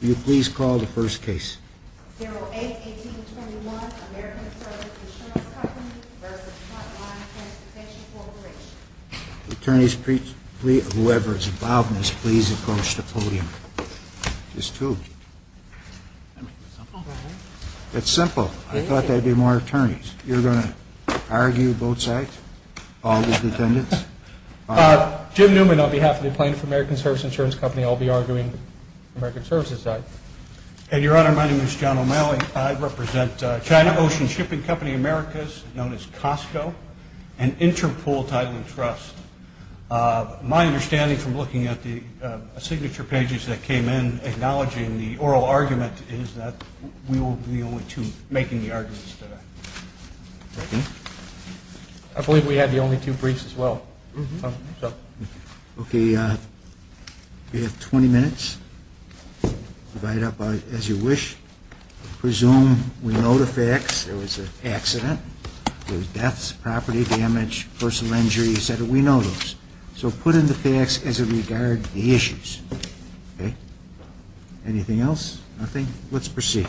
Do you please call the first case? 08-18-21 American Service Insurance Company v. Frontline Transportation Corporation Attorneys please, whoever is involved in this, please approach the podium. Just two. It's simple. I thought there'd be more attorneys. You're going to argue both sides? All the defendants? Jim Newman on behalf of the plaintiff of American Service Insurance Company. I'll be arguing American Service's side. And your honor, my name is John O'Malley. I represent China Ocean Shipping Company Americas, known as Costco, and Interpolitizing Trust. My understanding from looking at the signature pages that came in, acknowledging the oral argument, is that we will be the only two making the arguments today. I believe we have the only two briefs as well. Okay, you have 20 minutes. Write it up as you wish. Presume we know the facts. There was an accident. There were deaths, property damage, personal injury, etc. We know those. So put in the facts as it regards the issues. Anything else? Nothing? Let's proceed.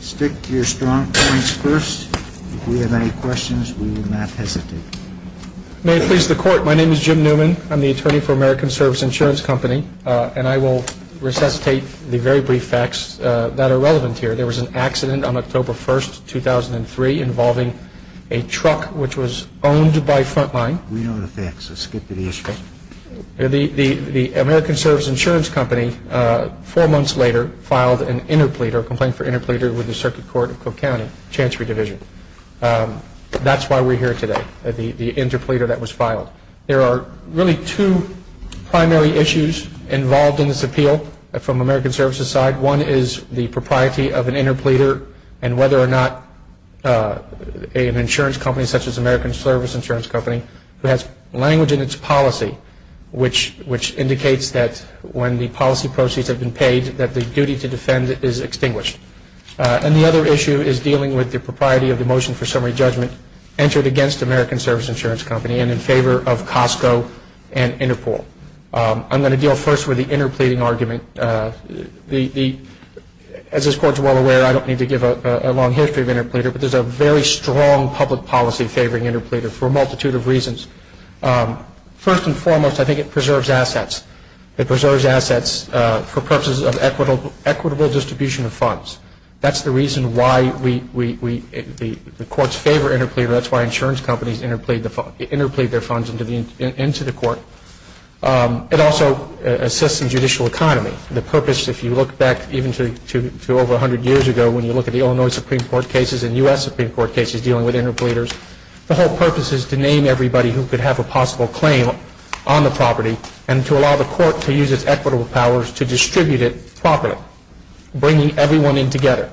Stick to your strong points first. If you have any questions, we will not hesitate. May it please the court, my name is Jim Newman. I'm the attorney for American Service Insurance Company, and I will resuscitate the very brief facts that are relevant here. There was an accident on October 1, 2003, involving a truck which was owned by Frontline. We know the facts, so stick to the issue. The American Service Insurance Company, four months later, filed an interpleader, a complaint for interpleader, with the Circuit Court of Cook County, Chancery Division. That's why we're here today, the interpleader that was filed. There are really two primary issues involved in this appeal from American Service's side. One is the propriety of an interpleader and whether or not an insurance company, such as American Service Insurance Company, has language in its policy, which indicates that when the policy proceeds have been paid, that the duty to defend is extinguished. And the other issue is dealing with the propriety of the motion for summary judgment entered against American Service Insurance Company and in favor of Costco and Interpol. I'm going to deal first with the interpleading argument. As this court is well aware, I don't need to give a long history of interpleader, but there's a very strong public policy favoring interpleader for a multitude of reasons. First and foremost, I think it preserves assets. It preserves assets for purposes of equitable distribution of funds. That's the reason why the courts favor interpleader. That's why insurance companies interplead their funds into the court. It also assists the judicial economy. The purpose, if you look back even to over 100 years ago, when you look at the Illinois Supreme Court cases and U.S. Supreme Court cases dealing with interpleaders, the whole purpose is to name everybody who could have a possible claim on the property and to allow the court to use its equitable powers to distribute it properly, bringing everyone in together.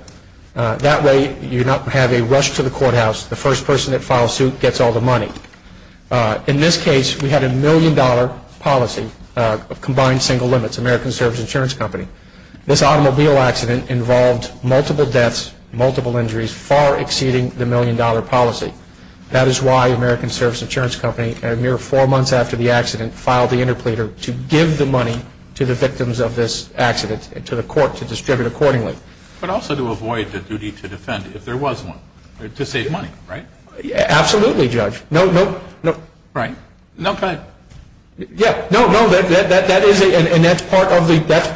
That way you don't have a rush to the courthouse. The first person that files suit gets all the money. In this case, we had a million-dollar policy of combined single limits, American Service Insurance Company. This automobile accident involved multiple deaths, multiple injuries, far exceeding the million-dollar policy. That is why American Service Insurance Company, a mere four months after the accident, filed the interpleader to give the money to the victims of this accident to the court to distribute accordingly. But also to avoid the duty to defend if there was one, to save money, right? Absolutely, Judge. Right. No offense. No, that is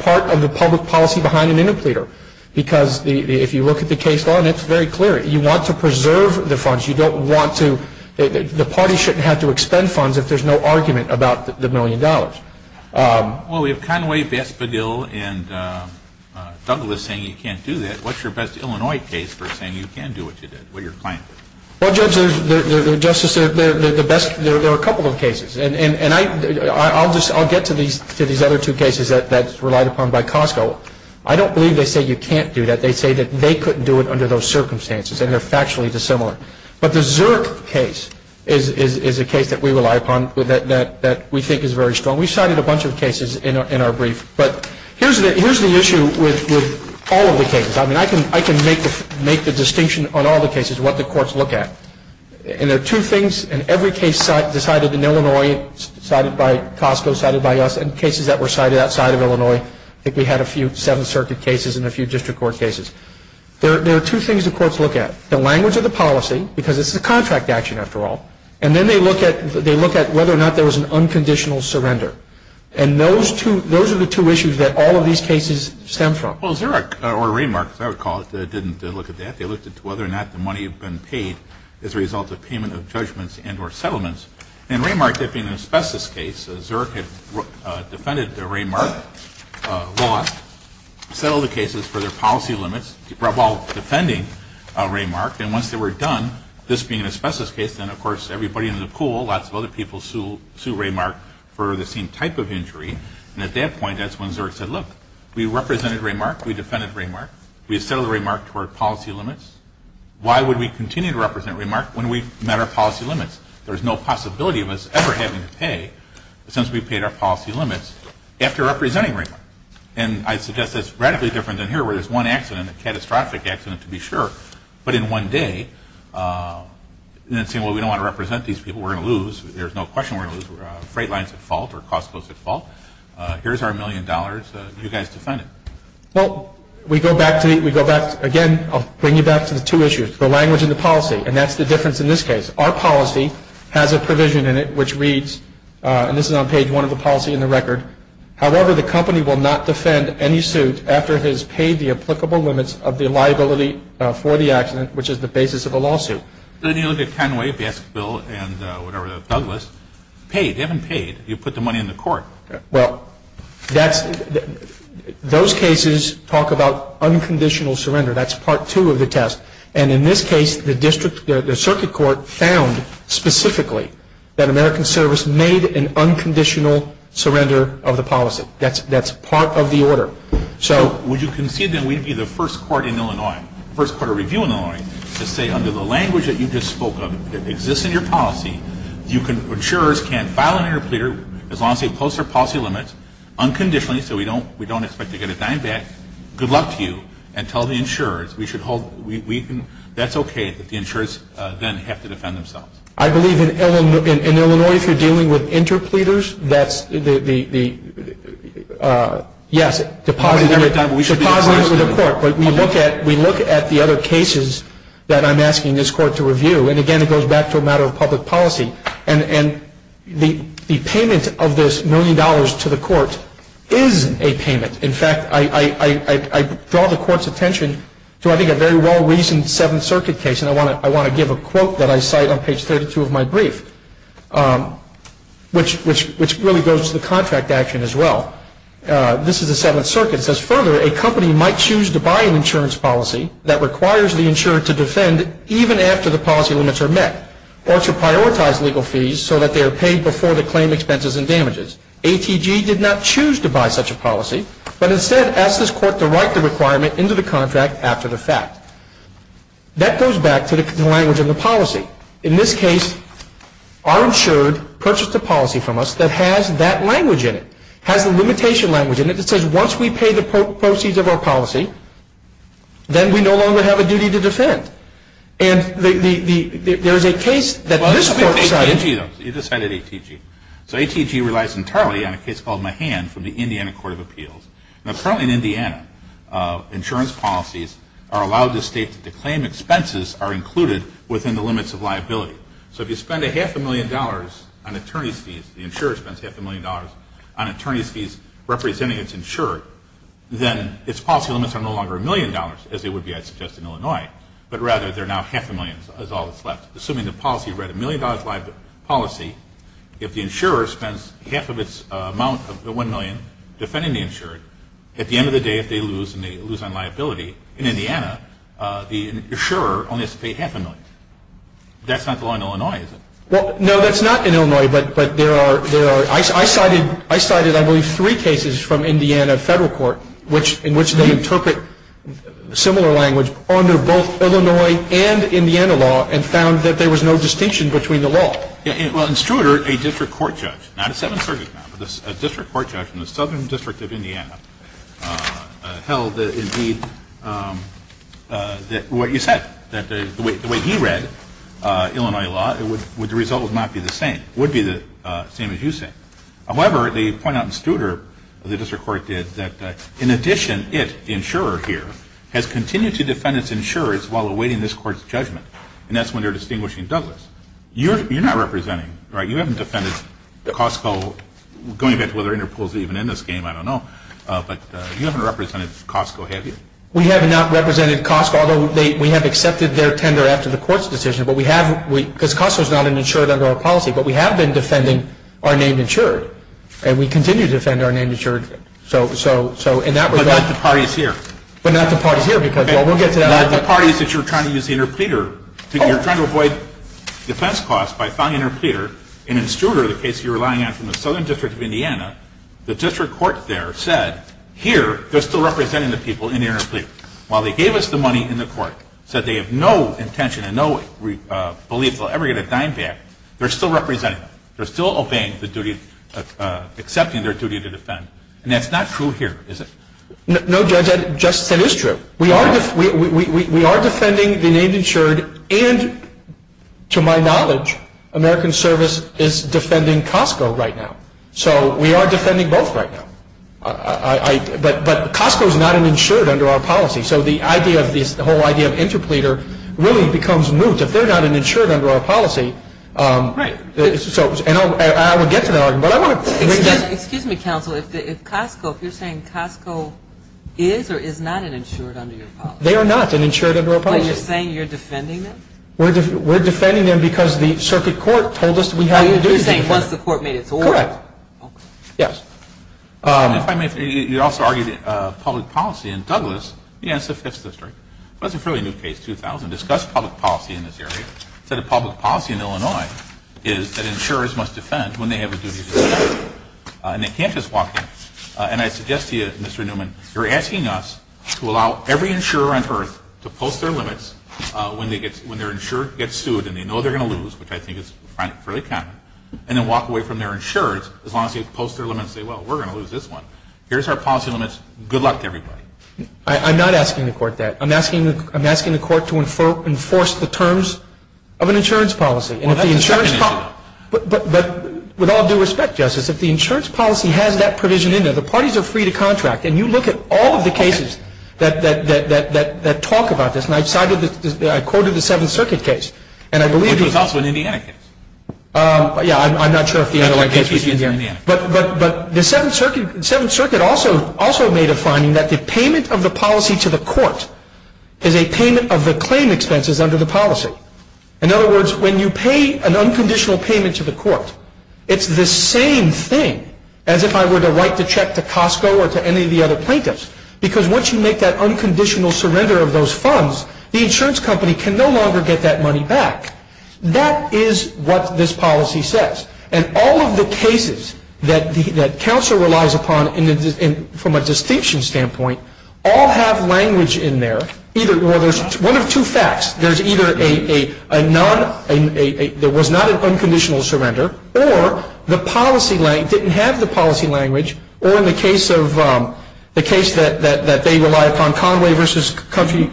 part of the public policy behind an interpleader. Because if you look at the case law, that's very clear. You want to preserve the funds. The party shouldn't have to expend funds if there's no argument about the million dollars. Well, we have Conway, Vespadil, and Douglas saying you can't do that. What's your best Illinois case for saying you can do it? Well, Justice, there are a couple of cases. And I'll get to these other two cases that's relied upon by Costco. I don't believe they say you can't do that. They say that they couldn't do it under those circumstances and are factually dissimilar. But the Zurich case is a case that we rely upon that we think is very strong. We cited a bunch of cases in our brief. But here's the issue with all of the cases. I mean, I can make the distinction on all the cases what the courts look at. And there are two things in every case decided in Illinois, cited by Costco, cited by us, and cases that were cited outside of Illinois. I think we had a few Seventh Circuit cases and a few district court cases. There are two things the courts look at, the language of the policy, because it's a contract action after all, and then they look at whether or not there was an unconditional surrender. And those are the two issues that all of these cases stem from. Well, Zurich or Raymark, as I recall, didn't look at that. They looked at whether or not the money had been paid as a result of payment of judgments and or settlements. In Raymark, there being an asbestos case, Zurich had defended the Raymark law, settled the cases for their policy limits, while defending Raymark. And once they were done, this being an asbestos case, then, of course, everybody in the pool, lots of other people, sued Raymark for the same type of injury. And at that point, that's when Zurich said, look, we represented Raymark, we defended Raymark, we settled Raymark for policy limits, why would we continue to represent Raymark when we met our policy limits? There's no possibility of us ever having to pay, since we paid our policy limits, after representing Raymark. And I suggest that's radically different than here, where there's one accident, a catastrophic accident to be sure, but in one day, and then saying, well, we don't want to represent these people, we're going to lose, there's no question we're going to lose freight lines at fault or cost of those at fault, here's our million dollars, you guys defend it. Well, we go back to, again, I'll bring you back to the two issues, the language and the policy, and that's the difference in this case. Our policy has a provision in it which reads, and this is on page one of the policy in the record, however, the company will not defend any suit after it has paid the applicable limits of the liability for the accident, which is the basis of a lawsuit. Well, then you look at Conway, Baskerville, and Douglas, they haven't paid. You put the money in the court. Well, those cases talk about unconditional surrender. That's part two of the test. And in this case, the circuit court found specifically that American Service made an unconditional surrender of the policy. That's part of the order. Would you concede that we'd be the first court in Illinois, to say under the language that you just spoke of that exists in your policy, insurers can't file an interpleader as long as they post their policy limits unconditionally, so we don't expect to get a dime back, good luck to you, and tell the insurers we should hold, that's okay if the insurers then have to defend themselves? I believe in Illinois, if you're dealing with interpleaders, that's the, yes, we look at the other cases that I'm asking this court to review, and again it goes back to a matter of public policy, and the payment of this million dollars to the court is a payment. In fact, I draw the court's attention to I think a very well-reasoned Seventh Circuit case, and I want to give a quote that I cite on page 32 of my brief, which really goes to the contract action as well. This is the Seventh Circuit. It says, further, a company might choose to buy an insurance policy that requires the insurer to defend even after the policy limits are met, or to prioritize legal fees so that they are paid before the claim expenses and damages. ATG did not choose to buy such a policy, but instead asked this court to write the requirement into the contract after the fact. That goes back to the language in the policy. In this case, our insurer purchased a policy from us that has that language in it, has a limitation language in it that says once we pay the proceeds of our policy, then we no longer have a duty to defend. And there is a case that this court decided. You just cited ATG. So ATG relies entirely on a case called Mahan from the Indiana Court of Appeals. Now currently in Indiana, insurance policies are allowed in the state that the claim expenses are included within the limits of liability. So if you spend a half a million dollars on attorney fees, if the insurer spends half a million dollars on attorney fees representing its insurer, then its policy limits are no longer a million dollars, as they would be, I suggest, in Illinois, but rather they're now half a million as all that's left. Assuming the policy, you write a million dollars liability policy, if the insurer spends half of its amount of the one million defending the insurer, at the end of the day if they lose and they lose on liability in Indiana, the insurer only has to pay half a million. That's not the law in Illinois, is it? Well, no, that's not in Illinois, but there are. I cited, I believe, three cases from Indiana federal court in which they interpret similar language under both Illinois and Indiana law and found that there was no distinction between the law. Well, in Struder, a district court judge, not a 7th Circuit judge, a district court judge in the Southern District of Indiana held that indeed what you said, that the way he read Illinois law, the result would not be the same. It would be the same as you said. However, they point out in Struder, the district court did, that in addition, its insurer here has continued to defend its insurers while awaiting this court's judgment, and that's when they're distinguishing business. You're not representing, right? You haven't defended Costco, going back to whether Interpol is even in this game, I don't know, but you haven't represented Costco, have you? We have not represented Costco, although we have accepted their tender after the court's decision, because Costco is not insured under our policy, but we have been defending our name insured, and we continue to defend our name insured. But not the parties here. But not the party here, because we'll get to that later. Not the parties that you're trying to use the interpleader. You're trying to avoid defense costs by finding an interpleader, and in Struder, the case you're relying on from the Southern District of Indiana, the district court there said, here, they're still representing the people in the interpleader. While they gave us the money in the court, said they have no intention, and no belief they'll ever get their time back, they're still representing them. They're still obeying the duty, accepting their duty to defend. And that's not true here, is it? No, Judge, that just isn't true. We are defending the name insured, and to my knowledge, American Service is defending Costco right now. So, we are defending both right now. But Costco is not an insured under our policy, so the whole idea of interpleader really becomes moot. If they're not an insured under our policy, I would get to that argument. Excuse me, counsel, if Costco, if you're saying Costco is or is not an insured under your policy. They are not an insured under our policy. Wait, you're saying you're defending them? We're defending them because the circuit court told us to be how you do things. You're saying once the court made it to order. Correct. Yes. If I may, you also argued public policy in Douglas. Yes, that's true. That's a fairly new case, 2000. Discuss public policy in this area. The public policy in Illinois is that insurers must defend when they have a duty to defend. And they can't just walk away. And I suggest to you, Mr. Newman, you're asking us to allow every insurer on earth to post their limits when their insurer gets sued and they know they're going to lose, which I think is fairly common, and then walk away from their insurers as long as they post their limits and say, well, we're going to lose this one. Here's our policy limits. Good luck, everybody. I'm not asking the court that. I'm asking the court to enforce the terms of an insurance policy. But with all due respect, Justice, if the insurance policy has that provision in there, the parties are free to contract. And you look at all of the cases that talk about this. And I quoted the Seventh Circuit case. It was also an Indiana case. Yeah, I'm not sure if the Illinois case was an Indiana case. But the Seventh Circuit also made a finding that the payment of the policy to the court is a payment of the claim expenses under the policy. It's the same thing as if I were to write the check to Costco or to any of the other plaintiffs. Because once you make that unconditional surrender of those funds, the insurance company can no longer get that money back. That is what this policy says. And all of the cases that counsel relies upon from a distinction standpoint all have language in there. One of two facts, there was not an unconditional surrender, or the policy didn't have the policy language, or in the case that they relied upon, Conway v. Country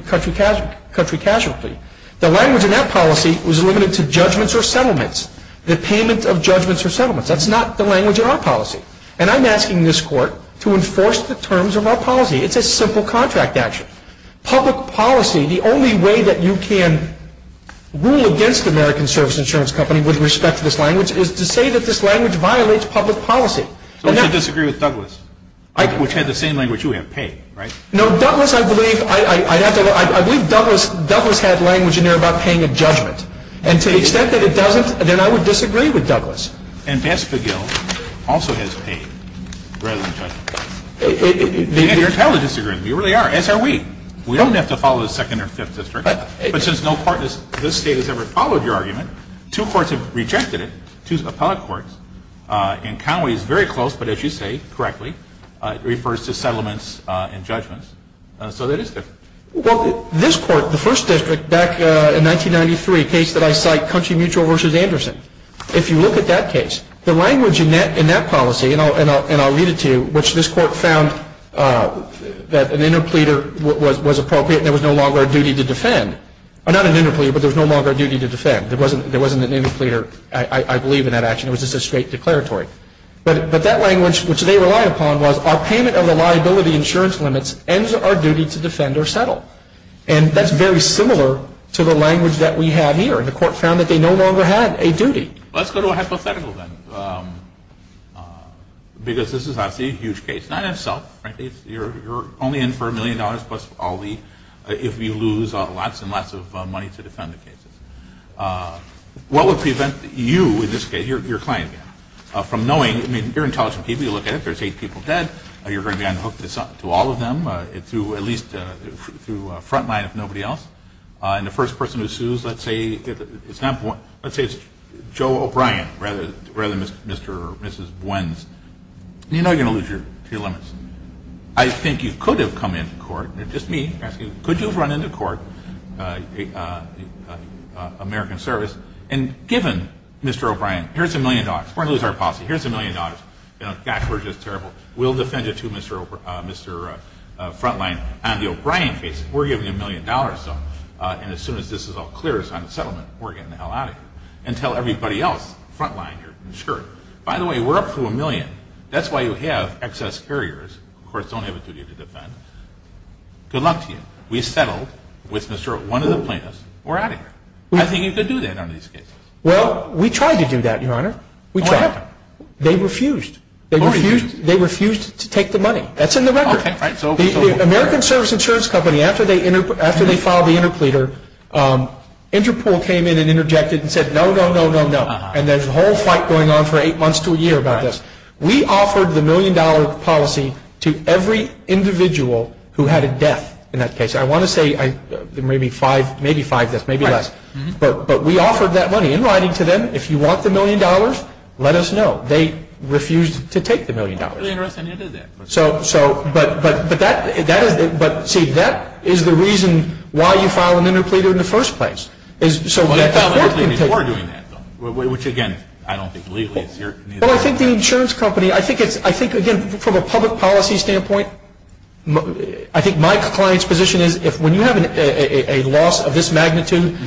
Casualty. The language in that policy was limited to judgments or settlements. The payment of judgments or settlements. That's not the language in our policy. It's a simple contract action. Public policy, the only way that you can rule against the American Service Insurance Company with respect to this language is to say that this language violates public policy. So who would disagree with Douglas? If we had the same language, you would have paid, right? No, Douglas, I believe Douglas had language in there about paying a judgment. And to the extent that it doesn't, then I would disagree with Douglas. And Bess Fogel also has a payment, rather than judgment. They didn't have to disagree with me, or they are, as are we. We don't have to follow the 2nd or 5th District. But since no part of this state has ever followed your argument, two courts have rejected it, two appellate courts. And Conway is very close, but as you say, correctly, refers to settlements and judgments. So that is good. Well, this court, the 1st District, back in 1993, a case that I cite, Country Mutual v. Anderson. If you look at that case, the language in that policy, and I'll read it to you, which this court found that an interpleader was appropriate and there was no longer a duty to defend. Not an interpleader, but there was no longer a duty to defend. There wasn't an interpleader, I believe, in that action. It was just a straight declaratory. But that language, which they relied upon, was, our payment of the liability insurance limits ends our duty to defend or settle. And that's very similar to the language that we have here. And the court found that they no longer have a duty. Let's go to a hypothetical then. Because this is actually a huge case. Not itself. You're only in for a million dollars plus all the, if you lose, lots and lots of money to defend the case. What would prevent you in this case, your client, from knowing, I mean, you're an intelligent people, you look at it, there's eight people dead, and you're going to be unhooked to all of them, to at least, to a front line if nobody else. And the first person who sues, let's say, is Joe O'Brien, rather than Mr. or Mrs. Bwens. You're not going to lose your limits. I think you could have come into court, just me, could you have run into court, American Service, and given Mr. O'Brien, here's a million dollars. We're going to lose our policy. Here's a million dollars. We'll defend it to Mr. Frontline. On the O'Brien case, we're giving a million dollars, though. And as soon as this is all clear, it's not a settlement, we're getting the hell out of here. And tell everybody else, Frontline, you're screwed. By the way, we're up to a million. That's why you have excess barriers. Of course, don't have a duty to defend. Good luck to you. We settled with Mr. One of the plaintiffs. We're out of here. I think you could do that on these cases. Well, we tried to do that, your honor. We tried. They refused. They refused to take the money. That's in the record. The American Service Insurance Company, after they filed the interpleader, Interpol came in and interjected and said, no, no, no, no, no. And there's a whole fight going on for eight months to a year about this. We offered the million-dollar policy to every individual who had a death in that case. I want to say maybe five deaths, maybe less. But we offered that money in writing to them. If you want the million dollars, let us know. They refused to take the million dollars. But, see, that is the reason why you filed an interpleader in the first place. Well, I think the insurance company, I think, again, from a public policy standpoint, I think my client's position is when you have a loss of this magnitude,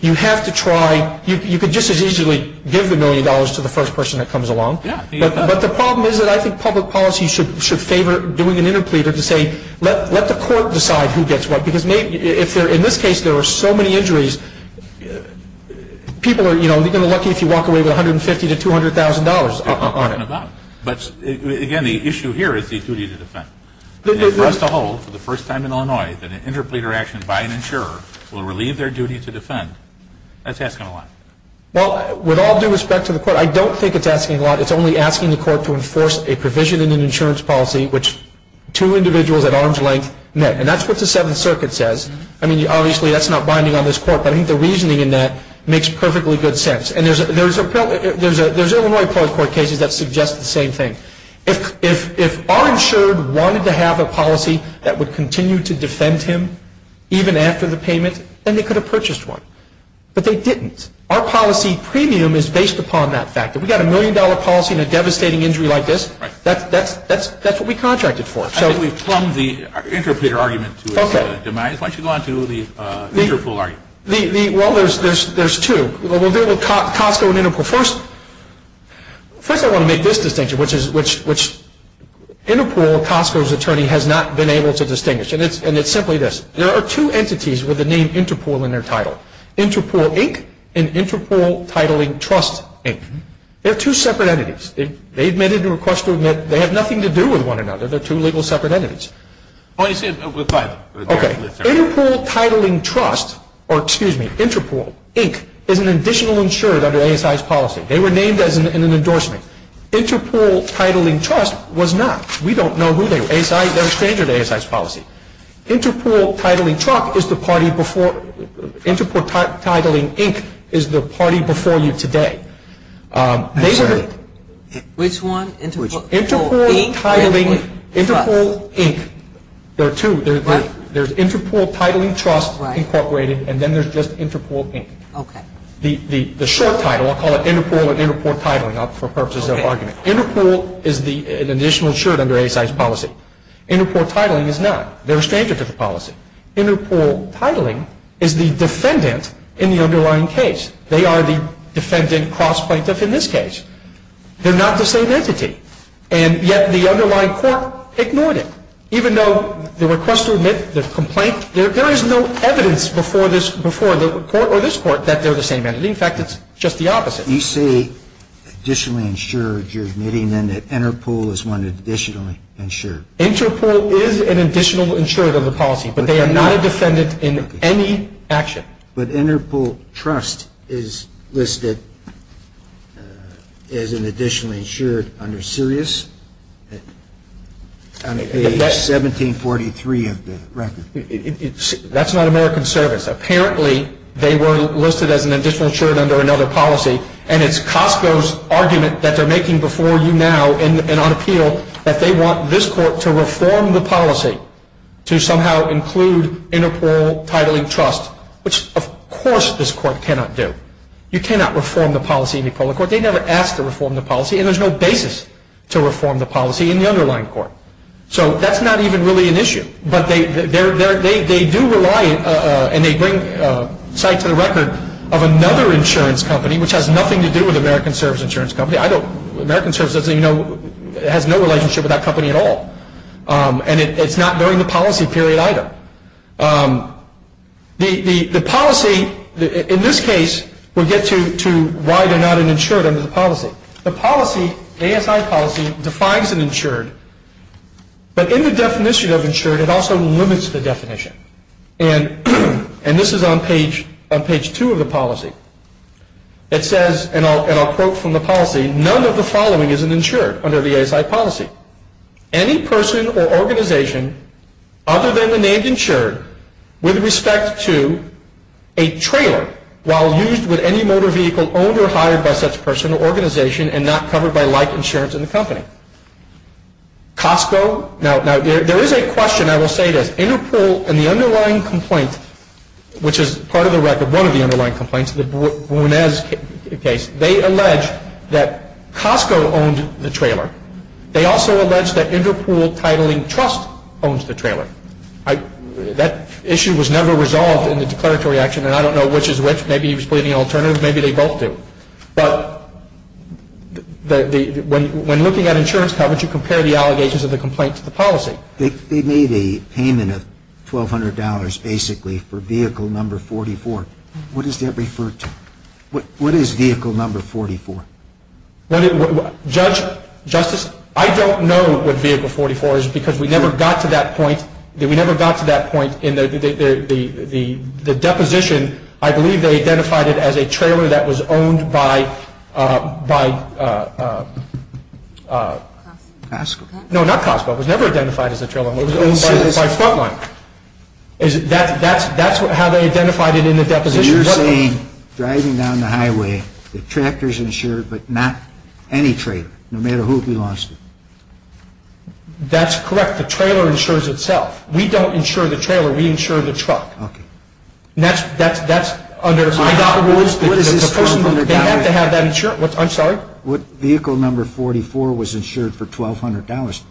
you have to try. You could just as easily give the million dollars to the first person that comes along. But the problem is that I think public policy should favor doing an interpleader to say, let the court decide who gets what. Because in this case, there are so many injuries. People are lucky if you walk away with $150,000 to $200,000. But, again, the issue here is the duty to defend. If you trust the whole for the first time in Illinois that an interpleader action by an insurer will relieve their duty to defend, that's asking a lot. Well, with all due respect to the court, I don't think it's asking a lot. It's only asking the court to enforce a provision in the insurance policy, which two individuals at arm's length met. And that's what the Seventh Circuit says. I mean, obviously, that's not binding on this court. But I think the reasoning in that makes perfectly good sense. And there's Illinois court cases that suggest the same thing. If our insurer wanted to have a policy that would continue to defend him, even after the payment, then they could have purchased one. But they didn't. Our policy premium is based upon that fact. If we've got a million-dollar policy and a devastating injury like this, that's what we contracted for. I think we've plumbed the interpleader argument to a demise. Why don't you go on to the interpool argument? Well, there's two. We'll deal with Costco and Interpool. First, I want to make this distinction, which Interpool, Costco's attorney, has not been able to distinguish. And it's simply this. There are two entities with the name Interpool in their title. Interpool, Inc. and Interpool Titling Trust, Inc. They're two separate entities. They've made it into a question. They have nothing to do with one another. They're two legal separate entities. Interpool Titling Trust, or, excuse me, Interpool, Inc., is an additional insurer under ASI's policy. They were named in an endorsement. Interpool Titling Trust was not. They're a stranger to ASI's policy. Interpool Titling Trust is the party before you. Interpool Titling, Inc. is the party before you today. Which one? Interpool, Inc.? Interpool, Inc. There are two. There's Interpool Titling Trust, Incorporated, and then there's just Interpool, Inc. Okay. The short title, I'll call it Interpool and Interpool Titling for purposes of argument. Interpool is an additional insurer under ASI's policy. Interpool Titling is not. They're a stranger to the policy. Interpool Titling is the defendant in the underlying case. They are the defendant cross-plaintiff in this case. They're not the same entity. And yet the underlying court ignored it. Even though the request to admit the complaint, there is no evidence before the court or this court that they're the same entity. In fact, it's just the opposite. You say additionally insured. You're admitting then that Interpool is an additional insurer. Interpool is an additional insurer under the policy, but they are not a defendant in any action. But Interpool Trust is listed as an additional insurer under Sirius. 1743 of the record. That's not American Service. Apparently, they were listed as an additional insurer under another policy, and it's Costco's argument that they're making before you now and on appeal that they want this court to reform the policy to somehow include Interpool Titling Trust, which, of course, this court cannot do. You cannot reform the policy in the Equality Court. They never asked to reform the policy, and there's no basis to reform the policy in the underlying court. So that's not even really an issue. But they do rely, and they bring sites to the record, of another insurance company, which has nothing to do with American Service Insurance Company. American Service has no relationship with that company at all. And it's not during the policy period either. The policy in this case would get to why they're not an insured under the policy. The policy, ASI policy, defines an insured. But in the definition of insured, it also limits the definition. And this is on page two of the policy. It says, and I'll quote from the policy, none of the following is an insured under the ASI policy. Any person or organization other than the name insured with respect to a trailer while used with any motor vehicle is owned or hired by such a person or organization and not covered by life insurance in the company. Costco, now there is a question, I will say this. InterPool in the underlying complaint, which is part of the record, one of the underlying complaints, the Brunez case, they allege that Costco owns the trailer. They also allege that InterPool Titling Trust owns the trailer. That issue was never resolved in the declaratory action, and I don't know which is which. Maybe he was putting in alternatives, maybe they both do. But when looking at insurance coverage, you compare the allegations of the complaint to the policy. They made a payment of $1,200 basically for vehicle number 44. What is that referred to? What is vehicle number 44? Judge, Justice, I don't know what vehicle 44 is because we never got to that point. We never got to that point in the deposition. I believe they identified it as a trailer that was owned by Costco. No, not Costco. It was never identified as a trailer. It was owned by Frontline. That's how they identified it in the deposition. So you're saying driving down the highway, the tractor is insured but not any trailer, no matter who belongs to it. That's correct. The trailer insures itself. We don't insure the trailer, we insure the truck. Okay. That's under— What is this $1,200? They have to have that insured. I'm sorry? Vehicle number 44 was insured for $1,200.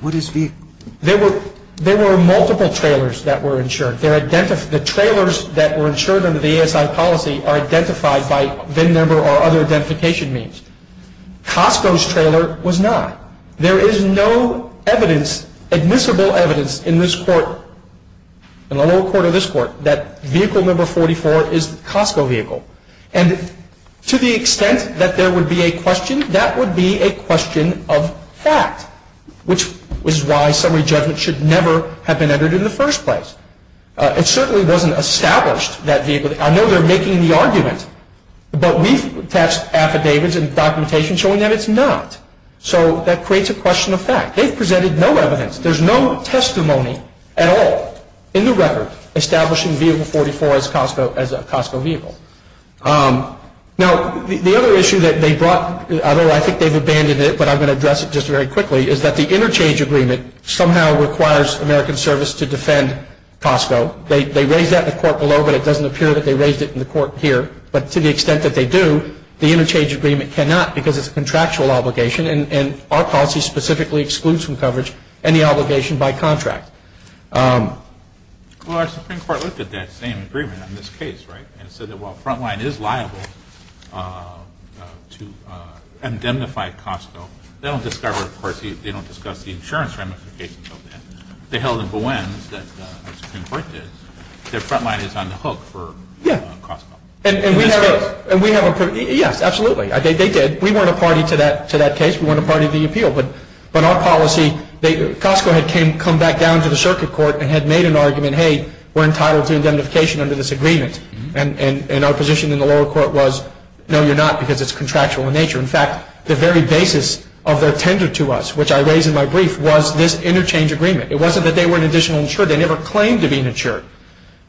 What is vehicle— There were multiple trailers that were insured. The trailers that were insured under the ASI policy are identified by VIN number or other identification means. Costco's trailer was not. There is no evidence, admissible evidence, in this court, in the lower court of this court, that vehicle number 44 is a Costco vehicle. And to the extent that there would be a question, that would be a question of fact, which is why summary judgment should never have been entered in the first place. It certainly wasn't established that vehicle—I know they're making the argument, but we've passed affidavits and documentation showing that it's not. So that creates a question of fact. They've presented no evidence. There's no testimony at all in the record establishing vehicle 44 as a Costco vehicle. Now, the other issue that they brought, although I think they've abandoned it, but I'm going to address it just very quickly, is that the interchange agreement somehow requires American Service to defend Costco. They raised that in the court below, but it doesn't appear that they raised it in the court here. But to the extent that they do, the interchange agreement cannot because it's a contractual obligation, and our policy specifically excludes from coverage any obligation by contract. Well, our Supreme Court looked at that same agreement on this case, right? It said that while the front line is liable to identify Costco, they don't discuss the insurance ramifications of that. They held a Bowens that the Supreme Court did. Their front line is on the hook for Costco. Yeah, absolutely. We weren't a party to that case. We weren't a party to the appeal. But our policy, Costco had come back down to the circuit court and had made an argument, hey, we're entitled to identification under this agreement. And our position in the oral court was, no, you're not because it's contractual in nature. In fact, the very basis of their tender to us, which I raised in my brief, was this interchange agreement. It wasn't that they were an additional insurer. They never claimed to be an insurer.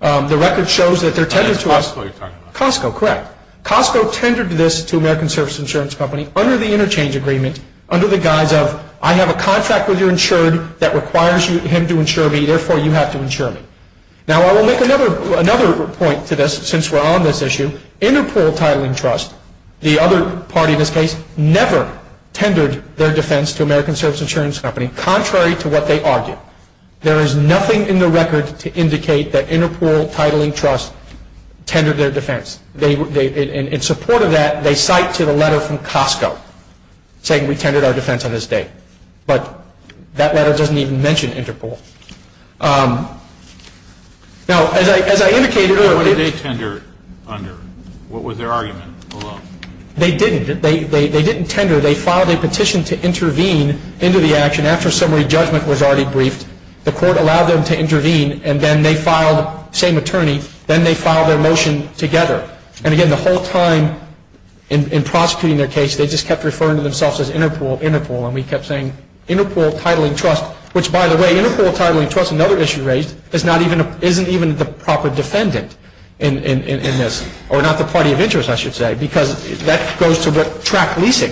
The record shows that their tender to us. Costco you're talking about. Costco, correct. Costco tendered this to American Service Insurance Company under the interchange agreement, under the guise of I have a contract with your insurer that requires him to insure me, therefore you have to insure me. Now, I will make another point to this since we're on this issue. Interpol Titling Trust, the other party in this case, never tendered their defense to American Service Insurance Company, contrary to what they argued. There is nothing in the record to indicate that Interpol Titling Trust tendered their defense. In support of that, they cite to the letter from Costco, saying we tendered our defense on this date. But that letter doesn't even mention Interpol. Now, as I indicated earlier, what did they tender under? What was their argument? They didn't. They didn't tender. They filed a petition to intervene into the action after summary judgment was already briefed. The court allowed them to intervene, and then they filed, same attorney, then they filed their motion together. And again, the whole time in prosecuting their case, they just kept referring to themselves as Interpol, Interpol, and we kept saying Interpol Titling Trust, which by the way, Interpol Titling Trust, another issue raised, isn't even the proper defendant in this, or not the party of interest, I should say, because that goes to the track leasing.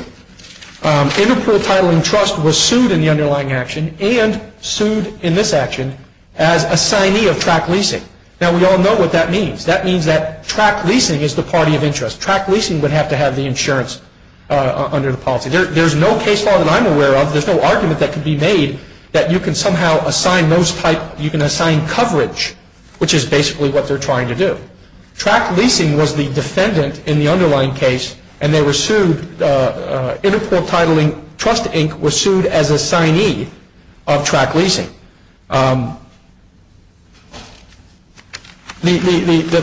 Interpol Titling Trust was sued in the underlying action and sued in this action as assignee of track leasing. Now, we all know what that means. That means that track leasing is the party of interest. Track leasing would have to have the insurance under the policy. There's no case law that I'm aware of, there's no argument that could be made, that you can somehow assign coverage, which is basically what they're trying to do. Track leasing was the defendant in the underlying case, and they were sued, Interpol Titling Trust Inc. was sued as assignee of track leasing. The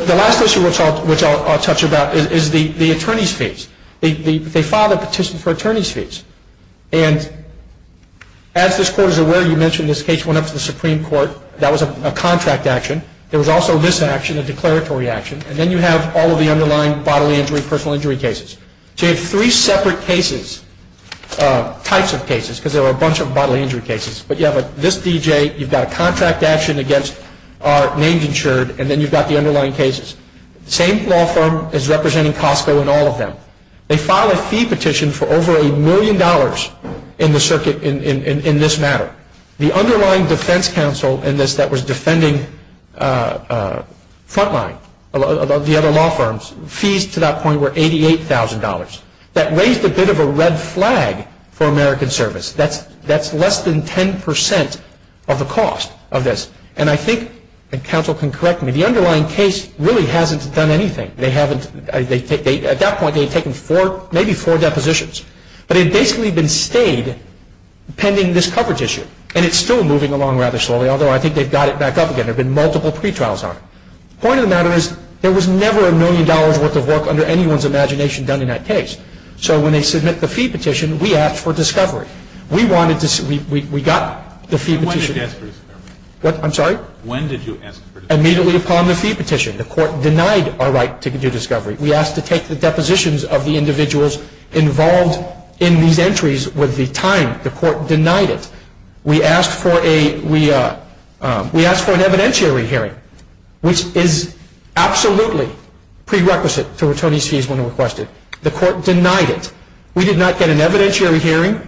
last issue which I'll touch about is the attorney's fees. They filed a petition for attorney's fees. And as this court is aware, you mentioned this case went up to the Supreme Court. That was a contract action. There was also this action, a declaratory action, and then you have all of the underlying bodily injury, personal injury cases. So you have three separate cases, types of cases, because there are a bunch of bodily injury cases. But you have this D.J., you've got a contract action against named insured, and then you've got the underlying cases. Same law firm is representing Costco in all of them. They filed a fee petition for over a million dollars in this matter. The underlying defense counsel in this that was defending Frontline, the other law firms, fees to that point were $88,000. That raised a bit of a red flag for American Service. That's less than 10% of the cost of this. And I think, and counsel can correct me, the underlying case really hasn't done anything. At that point, they've taken maybe four depositions. But they've basically been stayed pending this coverage issue. And it's still moving along rather slowly, although I think they've got it back up again. There have been multiple pre-trials on it. Point of the matter is, there was never a million dollar worth of work under anyone's imagination done in that case. So when they submit the fee petition, we asked for discovery. We wanted to, we got the fee petition. When did you ask for discovery? I'm sorry? When did you ask for discovery? Immediately upon the fee petition. The court denied our right to do discovery. We asked to take the depositions of the individuals involved in these entries with the time. The court denied it. We asked for an evidentiary hearing, which is absolutely prerequisite to returning fees when requested. The court denied it. We did not get an evidentiary hearing.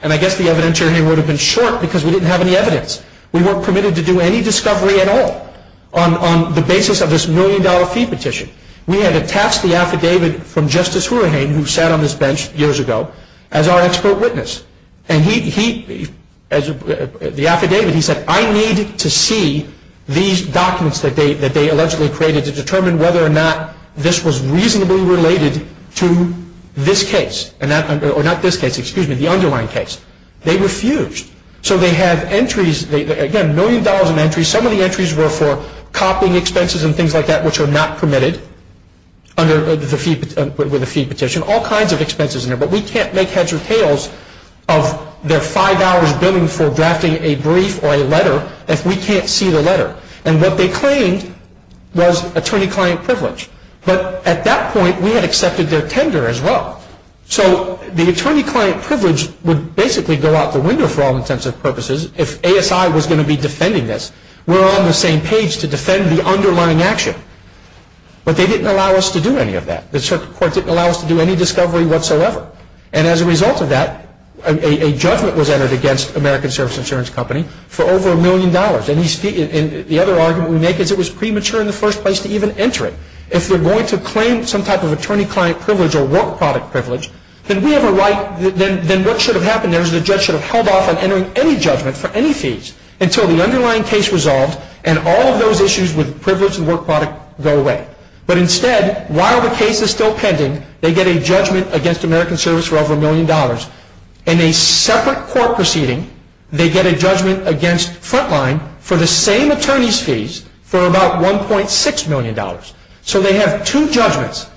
And I guess the evidentiary hearing would have been short because we didn't have any evidence. We weren't permitted to do any discovery at all on the basis of this million dollar fee petition. We had attached the affidavit from Justice Horenheim, who sat on this bench years ago, as our expert witness. And he, as the affidavit, he said, I need to see these documents that they allegedly created to determine whether or not this was reasonably related to this case. Or not this case, excuse me, the underlying case. They were fused. So they had entries, again, million dollar entries. Some of the entries were for copying expenses and things like that, which were not permitted under the fee petition. All kinds of expenses in there. But we can't make heads or tails of their $5 bill for drafting a brief or a letter if we can't see the letter. And what they claimed was attorney-client privilege. But at that point, we had accepted their tender as well. So the attorney-client privilege would basically go out the window for all intents and purposes. If ASI was going to be defending this, we're on the same page to defend the underlying action. But they didn't allow us to do any of that. The circuit court didn't allow us to do any discovery whatsoever. And as a result of that, a judgment was entered against American Service Insurance Company for over a million dollars. And the other argument we make is it was premature in the first place to even enter it. If we're going to claim some type of attorney-client privilege or work product privilege, then we have a right, then what should have happened is the judge should have held off on entering any judgment for any fees until the underlying case was solved and all of those issues with privilege and work product go away. But instead, while the case is still pending, they get a judgment against American Service for over a million dollars. In a separate court proceeding, they get a judgment against Frontline for the same attorney's fees for about $1.6 million. So they have two judgments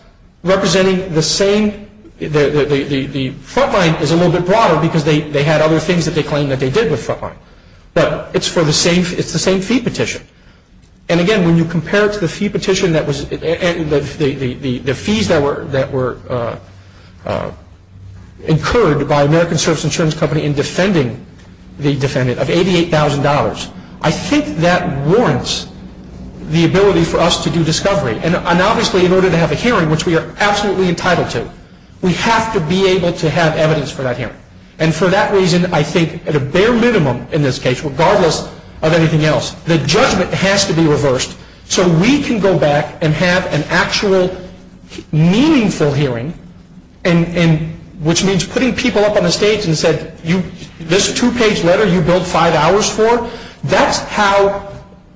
representing the same – the Frontline is a little bit broader because they had other things that they claimed that they did with Frontline. But it's the same fee petition. And again, when you compare it to the fees that were incurred by American Service Insurance Company in defending the defendant of $88,000, I think that warrants the ability for us to do discovery. And obviously, in order to have a hearing, which we are absolutely entitled to, we have to be able to have evidence for that hearing. And for that reason, I think at a bare minimum in this case, regardless of anything else, the judgment has to be reversed so we can go back and have an actual meaningful hearing, which means putting people up on the stage and saying, this two-page letter you built five hours for, that's how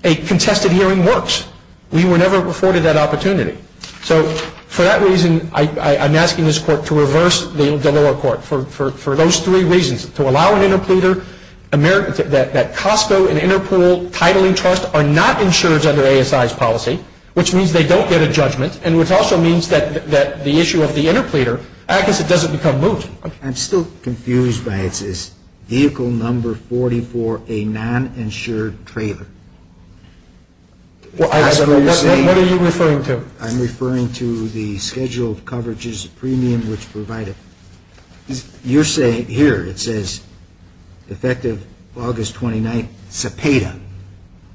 a contested hearing works. We were never afforded that opportunity. So for that reason, I'm asking this court to reverse the general court for those three reasons. To allow an interpleader, that Costco and Interpol Titling Trust are not insured under ASI's policy, which means they don't get a judgment, and which also means that the issue of the interpleader, I guess it doesn't become motion. I'm still confused by this. Vehicle number 44, a non-insured trailer. What are you referring to? I'm referring to the schedule of coverages premium was provided. You're saying here, it says, effective August 29th, Cepeda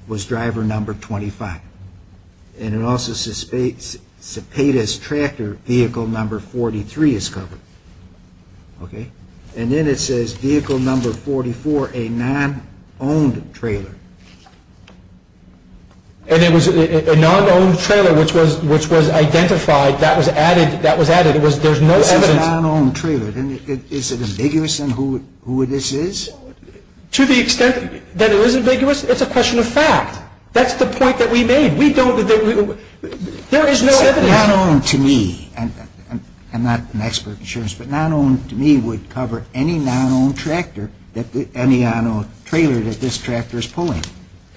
was driver number 25. And it also says Cepeda's tractor vehicle number 43 is covered. And then it says vehicle number 44, a non-owned trailer. And it was a non-owned trailer, which was identified, that was added. It was a non-owned trailer. Then is it ambiguous on who this is? To the extent that it is ambiguous, it's a question of fact. That's the point that we made. We don't have any rule. There is no evidence. Non-owned to me, and I'm not an expert in insurance, but non-owned to me would cover any non-owned trailer that this tractor is pulling.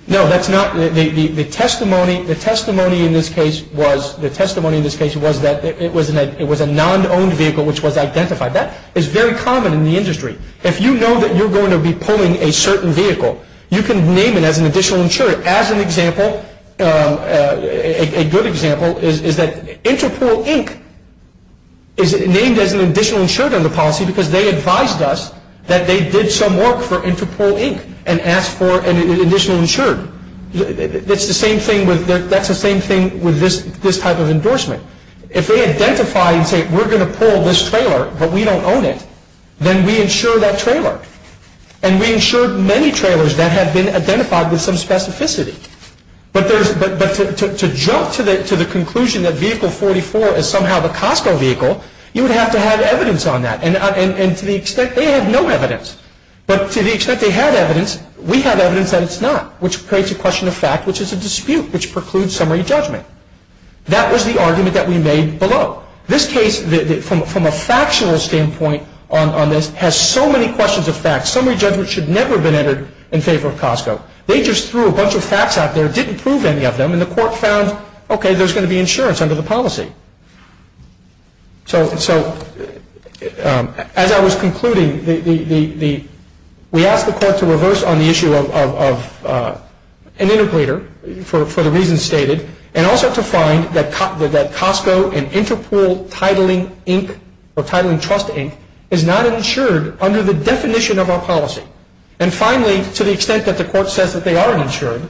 No, that's not the testimony. The testimony in this case was that it was a non-owned vehicle, which was identified. That is very common in the industry. If you know that you're going to be pulling a certain vehicle, you can name it as an additional insurer. As an example, a good example is that Interpol Inc. is named as an additional insurer in the policy because they advised us that they did some work for Interpol Inc. and asked for an additional insurer. That's the same thing with this type of endorsement. If they identify and say, we're going to pull this trailer, but we don't own it, then we insure that trailer. And we insured many trailers that had been identified with some specificity. But to jump to the conclusion that Vehicle 44 is somehow the Costco vehicle, you would have to have evidence on that. And to the extent they have no evidence, but to the extent they had evidence, we have evidence that it's not, which creates a question of fact, which is a dispute, which precludes summary judgment. That was the argument that we made below. This case, from a factional standpoint on this, has so many questions of fact. Summary judgment should never have been entered in favor of Costco. They just threw a bunch of facts out there, didn't prove any of them, and the court found, okay, there's going to be insurance under the policy. So as I was concluding, we asked the court to reverse on the issue of an integrator, for the reasons stated, and also to find that Costco and Interpol Titling Trust Inc. is not insured under the definition of our policy. And finally, to the extent that the court says that they are insured,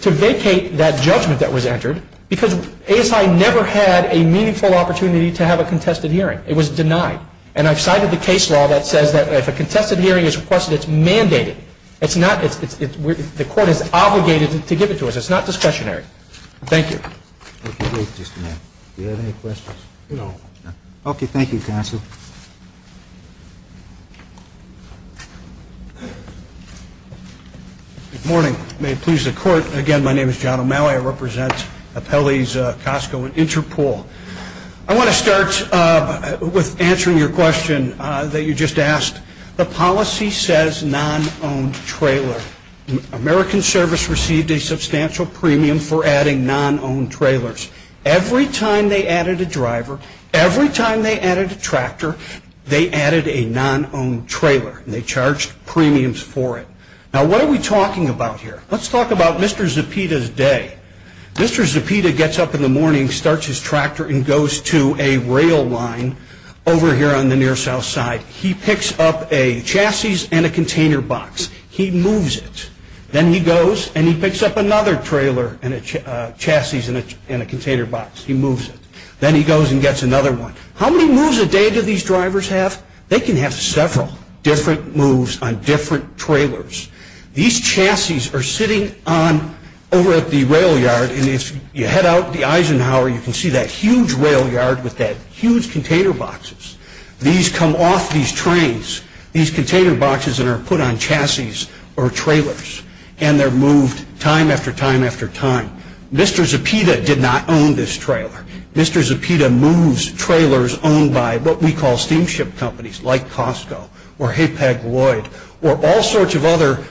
to vacate that judgment that was entered, because ASI never had a meaningful opportunity to have a contested hearing. It was denied. And I've cited the case law that says that if a contested hearing is requested, it's mandated. The court is obligated to give it to us. It's not discretionary. Thank you. Thank you. Do you have any questions? No. Okay, thank you, counsel. Thank you. Good morning. May it please the court, again, my name is John O'Malley. I represent Appellees Costco and Interpol. I want to start with answering your question that you just asked. The policy says non-owned trailer. American Service received a substantial premium for adding non-owned trailers. Every time they added a driver, every time they added a tractor, they added a non-owned trailer. And they charged premiums for it. Now, what are we talking about here? Let's talk about Mr. Zepeda's day. Mr. Zepeda gets up in the morning, starts his tractor, and goes to a rail line over here on the near south side. He picks up a chassis and a container box. He moves it. Then he goes and he picks up another trailer and a chassis and a container box. He moves it. Then he goes and gets another one. How many moves a day do these drivers have? They can have several different moves on different trailers. These chassis are sitting on over at the rail yard, and if you head out the Eisenhower, you can see that huge rail yard with that huge container boxes. These come off these trains, these container boxes that are put on chassis or trailers, and they're moved time after time after time. Mr. Zepeda did not own this trailer. Mr. Zepeda moves trailers owned by what we call steamship companies like Costco or Haypack Lloyd or all sorts of other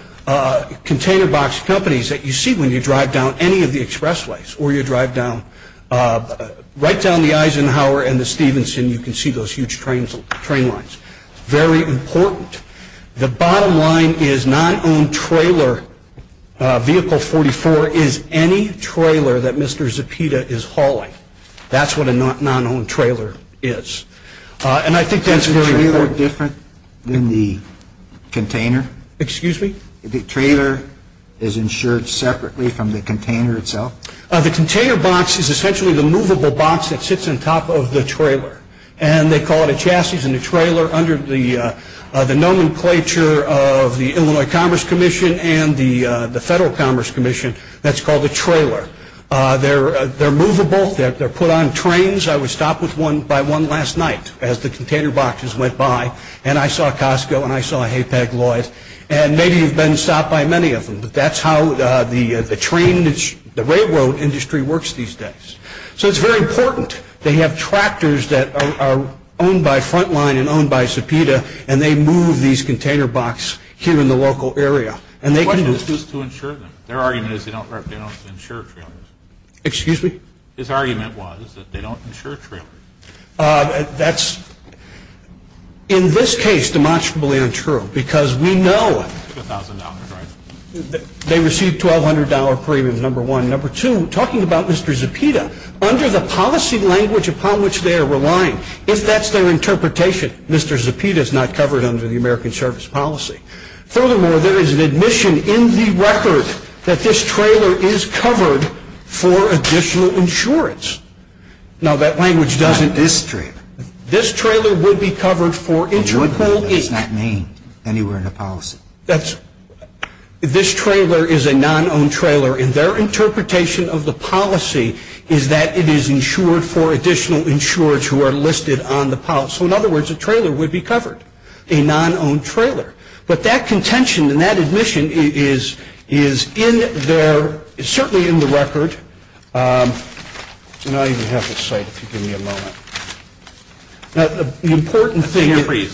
container box companies that you see when you drive down any of the expressways or you drive down, right down the Eisenhower and the Stevenson, you can see those huge train lines. Very important. The bottom line is non-owned trailer vehicle 44 is any trailer that Mr. Zepeda is hauling. That's what a non-owned trailer is. And I think that's really different than the container. Excuse me? The trailer is insured separately from the container itself? The container box is essentially the movable box that sits on top of the trailer, and they call it a chassis and a trailer under the nomenclature of the Illinois Commerce Commission and the Federal Commerce Commission. That's called a trailer. They're movable. They're put on trains. I was stopped by one last night as the container boxes went by, and I saw Costco and I saw Haypack Lloyd, and maybe you've been stopped by many of them, but that's how the railroad industry works these days. So it's very important. They have tractors that are owned by Frontline and owned by Zepeda, and they move these container box here in the local area. What does this do to insurance? Their argument is they don't insure trailers. Excuse me? His argument was that they don't insure trailers. That's, in this case, demonstrably unsure because we know they receive $1,200 premium, number one. Number two, talking about Mr. Zepeda, under the policy language upon which they are relying, that's their interpretation. Mr. Zepeda is not covered under the American Service Policy. Furthermore, there is an admission in the record that this trailer is covered for additional insurance. No, that language doesn't exist. This trailer would be covered for additional insurance. It's not named anywhere in the policy. This trailer is a non-owned trailer, and their interpretation of the policy is that it is insured for additional insurers who are listed on the policy. So, in other words, a trailer would be covered, a non-owned trailer. But that contention and that admission is certainly in the record. I don't even have to say it. Give me a moment. Now, the important thing is- I'm sorry to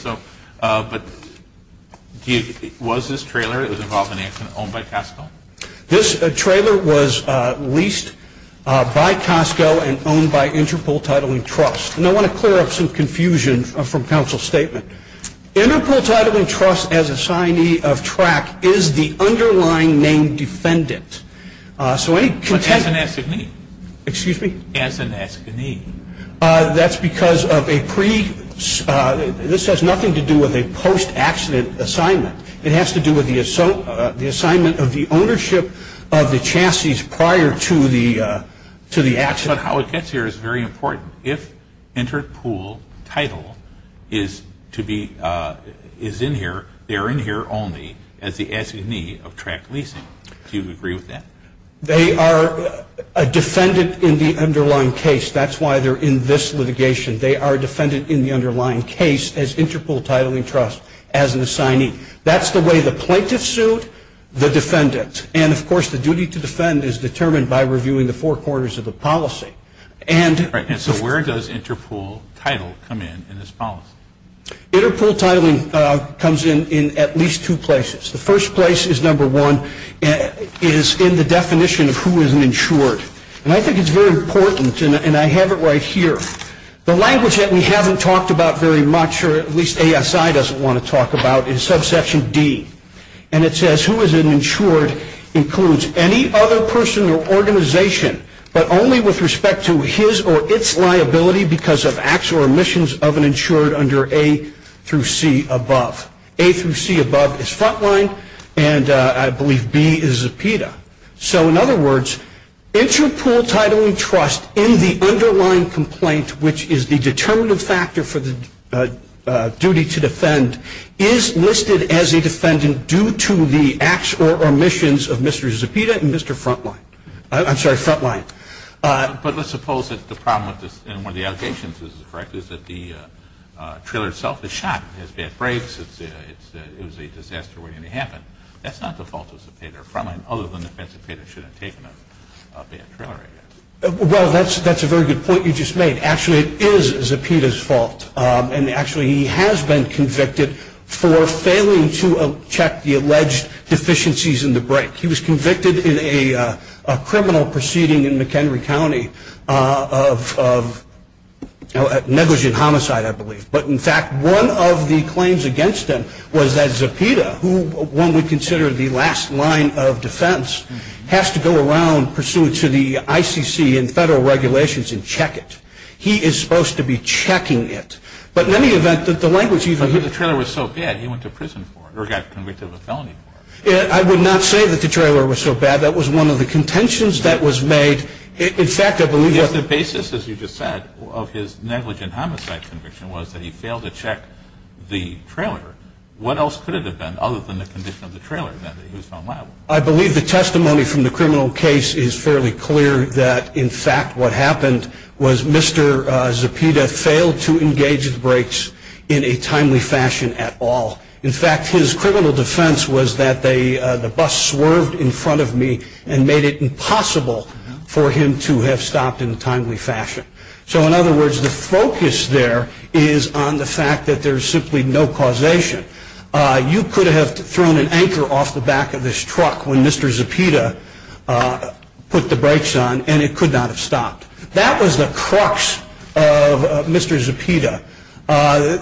interrupt you, but was this trailer, it was involved in an accident, owned by Costco? This trailer was leased by Costco and owned by Interpol Titling Trust. And I want to clear up some confusion from counsel's statement. Interpol Titling Trust, as an assignee of TRAC, is the underlying named defendant. So, any contention- Anthanascony. Excuse me? Anthanascony. That's because of a pre- this has nothing to do with a post-accident assignment. It has to do with the assignment of the ownership of the chassis prior to the accident. But how it gets here is very important. If Interpol Title is in here, they're in here only as the assignee of TRAC Leasing. Do you agree with that? They are a defendant in the underlying case. That's why they're in this litigation. They are a defendant in the underlying case as Interpol Titling Trust as an assignee. That's the way the plaintiff sued the defendant. And, of course, the duty to defend is determined by reviewing the four corners of the policy. So where does Interpol Title come in in this policy? Interpol Titling comes in at least two places. The first place is, number one, is in the definition of who is an insured. And I think it's very important, and I have it right here. The language that we haven't talked about very much, or at least ASI doesn't want to talk about, is subsection D. And it says who is an insured includes any other person or organization, but only with respect to his or its liability because of acts or omissions of an insured under A through C above. A through C above is flat line, and I believe B is a PETA. So, in other words, Interpol Titling Trust in the underlying complaint, which is the determinative factor for the duty to defend, is listed as a defendant due to the acts or omissions of Mr. Zepeda and Mr. Frontline. I'm sorry, Frontline. But let's suppose that the problem with this, and one of the allegations is correct, is that the trailer itself is shot. It has bad brakes. It was a disaster when it happened. That's not the fault of Zepeda or Frontline, other than Zepeda should have taken a bad trailer, I guess. Well, that's a very good point you just made. Actually, it is Zepeda's fault. And, actually, he has been convicted for failing to check the alleged deficiencies in the brakes. He was convicted in a criminal proceeding in McHenry County of negligent homicide, I believe. But, in fact, one of the claims against him was that Zepeda, who one would consider the last line of defense, has to go around pursuant to the ICC and federal regulations and check it. He is supposed to be checking it. But, in any event, the language used was that the trailer was so bad he went to prison for it, or got convicted of a felony for it. I would not say that the trailer was so bad. That was one of the contentions that was made. In fact, I believe that the basis, as you just said, of his negligent homicide conviction was that he failed to check the trailer. What else could it have been other than the condition of the trailer? I believe the testimony from the criminal case is fairly clear that, in fact, what happened was Mr. Zepeda failed to engage the brakes in a timely fashion at all. In fact, his criminal defense was that the bus swerved in front of me and made it impossible for him to have stopped in a timely fashion. So, in other words, the focus there is on the fact that there is simply no causation. You could have thrown an anchor off the back of this truck when Mr. Zepeda put the brakes on, and it could not have stopped. That was the crux of Mr. Zepeda.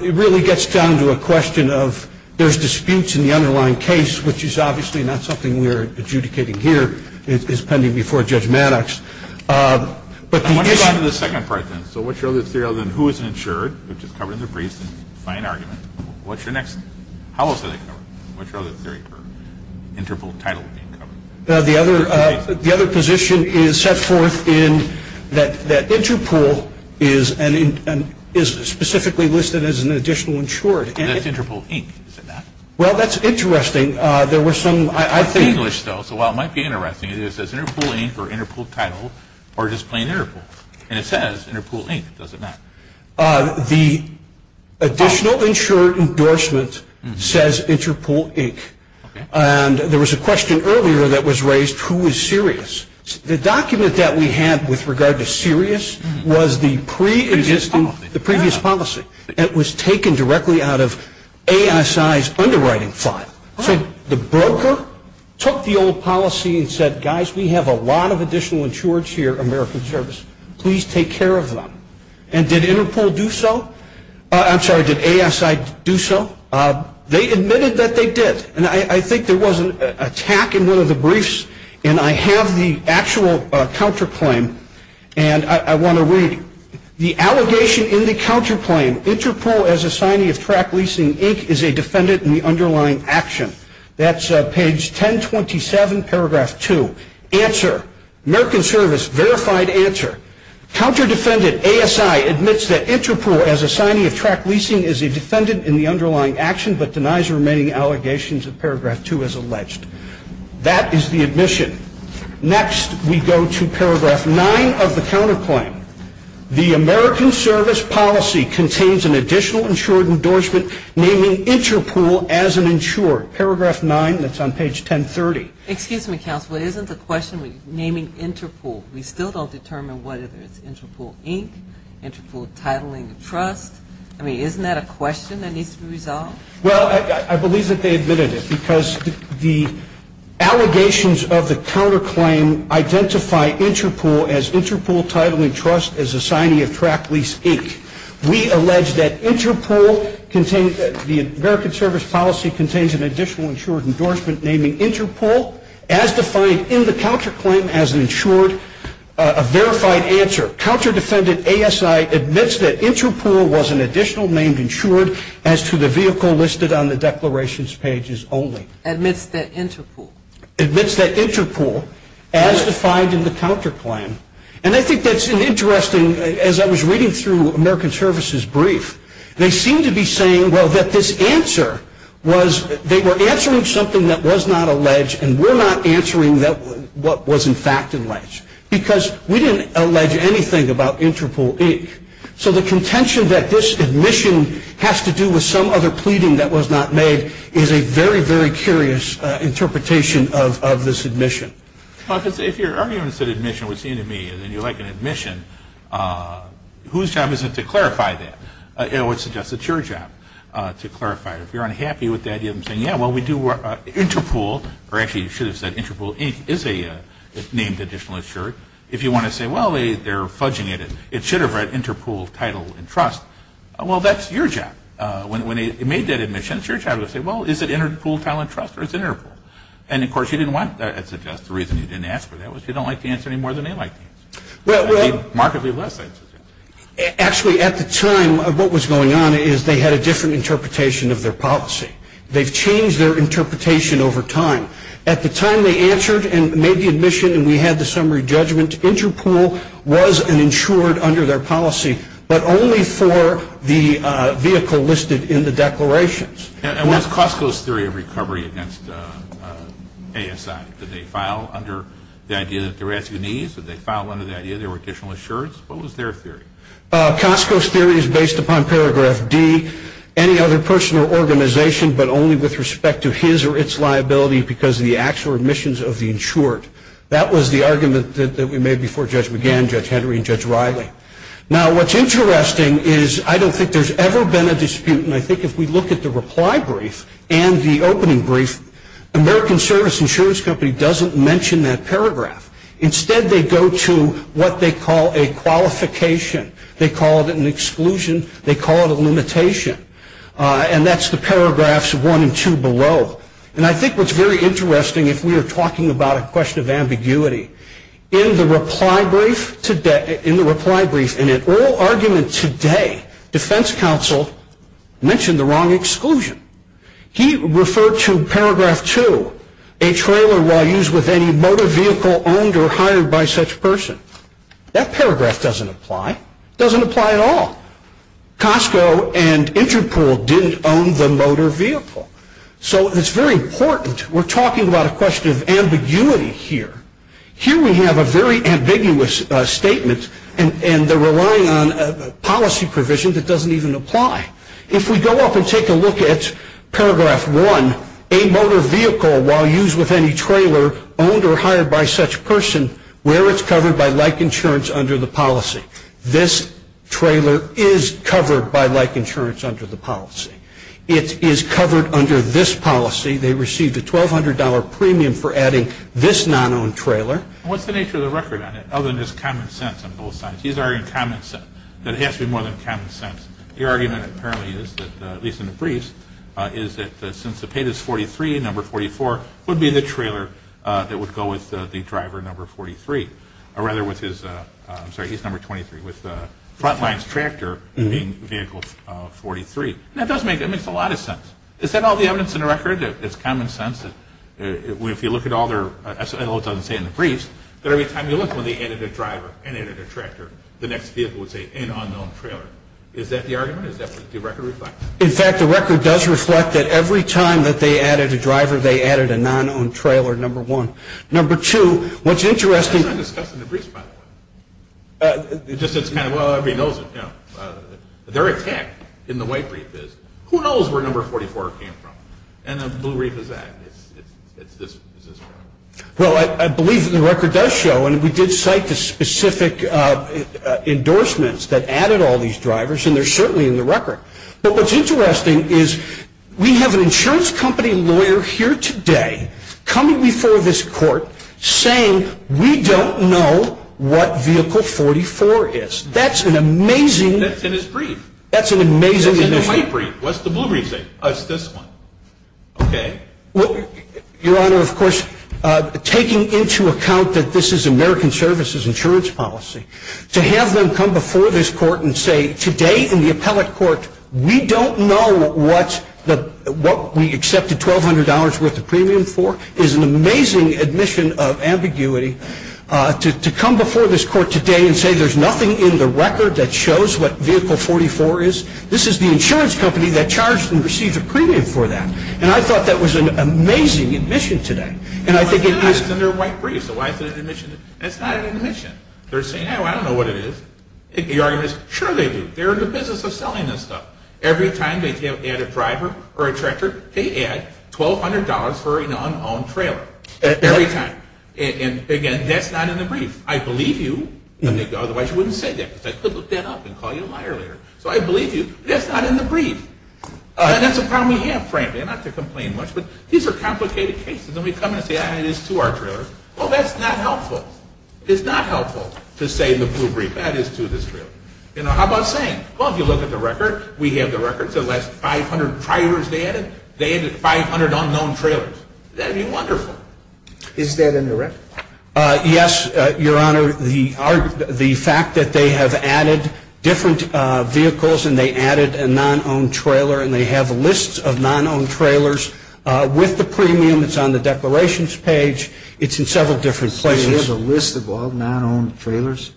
It really gets down to a question of there's disputes in the underlying case, which is obviously not something we are adjudicating here. It is pending before Judge Maddox. Let's move on to the second question. So what's your other theory other than who is insured, which is covered in the brief, by an argument? What's your next theory? How else is it covered? What's your other theory for Interpol title? The other position is set forth in that Interpol is specifically listed as an additional insured. That's Interpol Inc., is it not? Well, that's interesting. It's in English, though, so while it might be interesting, it says Interpol Inc. or Interpol title, or just plain Interpol, and it says Interpol Inc., does it not? The additional insured endorsement says Interpol Inc., and there was a question earlier that was raised, who is serious? The document that we had with regard to serious was the previous policy, and it was taken directly out of ASI's underwriting file. The broker took the old policy and said, guys, we have a lot of additional insureds here at American Service. Please take care of them. And did Interpol do so? I'm sorry, did ASI do so? They admitted that they did, and I think there was an attack in one of the briefs, and I have the actual counterclaim, and I want to read, the allegation in the counterclaim, Interpol as assignee of track leasing Inc. is a defendant in the underlying action. That's page 1027, paragraph 2. Answer, American Service verified answer, counter defendant ASI admits that Interpol as assignee of track leasing is a defendant in the underlying action, but denies remaining allegations of paragraph 2 as alleged. That is the admission. Next, we go to paragraph 9 of the counterclaim. The American Service policy contains an additional insured endorsement naming Interpol as an insured. Paragraph 9, that's on page 1030. Excuse me, counsel, isn't the question naming Interpol, we still don't determine what it is, Interpol Inc., Interpol Titling Trust. I mean, isn't that a question that needs to be resolved? Well, I believe that they admitted it, because the allegations of the counterclaim identify Interpol as Interpol Titling Trust as assignee of track lease Inc. We allege that Interpol contains, the American Service policy contains an additional insured endorsement naming Interpol as defined in the counterclaim as an insured, a verified answer. Counter defendant ASI admits that Interpol was an additional named insured as to the vehicle listed on the declarations pages only. Admits that Interpol. Admits that Interpol as defined in the counterclaim. And I think that's an interesting, as I was reading through American Service's brief, they seem to be saying, well, that this answer was, they were answering something that was not alleged, and we're not answering what was in fact alleged. Because we didn't allege anything about Interpol Inc. So the contention that this admission has to do with some other pleading that was not made, is a very, very curious interpretation of this admission. If your argument is that admission was seen to be, and you like an admission, whose job is it to clarify that? I would suggest it's your job to clarify it. If you're unhappy with the idea of saying, yeah, well, we do Interpol, or actually, you should have said Interpol Inc. is a named additional insured. If you want to say, well, they're fudging it, it should have an Interpol title and trust. Well, that's your job. When they made that admission, it's your job to say, well, is it Interpol Talent Trust or is it Interpol? And, of course, you didn't want that. That's the reason you didn't ask for that. You don't like the answer any more than they like the answer. Markedly less than. Actually, at the time, what was going on is they had a different interpretation of their policy. They changed their interpretation over time. At the time they answered and made the admission and we had the summary judgment, Interpol was an insured under their policy, but only for the vehicle listed in the declarations. And what's Costco's theory of recovery against ASI? Did they file under the idea that there were two needs? Did they file under the idea there were additional insurance? What was their theory? Costco's theory is based upon paragraph D, any other personal organization, but only with respect to his or its liability because of the actual admissions of the insured. That was the argument that we made before Judge McGann, Judge Henry, and Judge Riley. Now, what's interesting is I don't think there's ever been a dispute, and I think if we look at the reply brief and the opening brief, American Service Insurance Company doesn't mention that paragraph. Instead, they go to what they call a qualification. They call it an exclusion. They call it a limitation. And that's the paragraphs of one and two below. And I think what's very interesting, if we are talking about a question of ambiguity, in the reply brief and in all arguments today, Defense Counsel mentioned the wrong exclusion. He referred to paragraph two, a trailer used with any motor vehicle owned or hired by such person. That paragraph doesn't apply. It doesn't apply at all. Costco and Interpol did own the motor vehicle. So it's very important. We're talking about a question of ambiguity here. Here we have a very ambiguous statement, and they're relying on a policy provision that doesn't even apply. If we go up and take a look at paragraph one, a motor vehicle while used with any trailer owned or hired by such person, where it's covered by like insurance under the policy. This trailer is covered by like insurance under the policy. It is covered under this policy. They received a $1,200 premium for adding this non-owned trailer. What's the nature of the record on that, other than just common sense on both sides? These are in common sense, but it has to be more than common sense. The argument apparently is that, at least in the briefs, is that since the pit is 43 and number 44 would be the trailer that would go with the driver number 43, or rather with his, I'm sorry, he's number 23, with the front line's tractor being vehicle 43. That does make a lot of sense. Is that all the evidence in the record? It's common sense that if you look at all their, that's all it doesn't say in the briefs, that every time you look at the added driver and added tractor, the next vehicle would say an unknown trailer. Is that the argument? Is that what the record reflects? In fact, the record does reflect that every time that they added a driver, they added a non-owned trailer, number one. Number two, what's interesting. It's not discussed in the briefs, by the way. It's just that, well, everybody knows it. They're exact in the white brief is, who knows where number 44 came from? And the blue brief is that. Well, I believe the record does show, and we did cite the specific endorsements that added all these drivers, and they're certainly in the record. But what's interesting is we have an insurance company lawyer here today coming before this court saying we don't know what vehicle 44 is. That's an amazing. That's in his brief. That's an amazing. It's in the white brief. What's the blue brief say? Oh, it's this one. Okay. Well, Your Honor, of course, taking into account that this is American Services insurance policy, to have them come before this court and say today in the appellate court, we don't know what we accepted $1,200 worth of premium for is an amazing admission of ambiguity. To come before this court today and say there's nothing in the record that shows what vehicle 44 is, this is the insurance company that charged and received a premium for that. And I thought that was an amazing admission today. And I think it is. It's in their white brief. It's not an admission. They're saying, oh, I don't know what it is. The argument is, sure they do. They're in the business of selling this stuff. Every time they add a driver or a tractor, they add $1,200 for a non-owned trailer. Every time. And again, that's not in the brief. I believe you. Otherwise you wouldn't have said that. Because I could look that up and call you a liar later. So I believe you. That's not in the brief. And that's a problem we have, frankly. I'm not going to complain much. But these are complicated cases. And we come in and say, I have these two R trailers. Well, that's not helpful. It's not helpful to say in the blue brief, that is to this trailer. How about saying, well, if you look at the record, we have the records. The last 500 drivers they added, they added 500 unknown trailers. That would be wonderful. Is that in the record? Yes, Your Honor. The fact that they have added different vehicles and they added a non-owned trailer and they have lists of non-owned trailers with the premium that's on the depilations page, it's in several different places. There's a list of all non-owned trailers?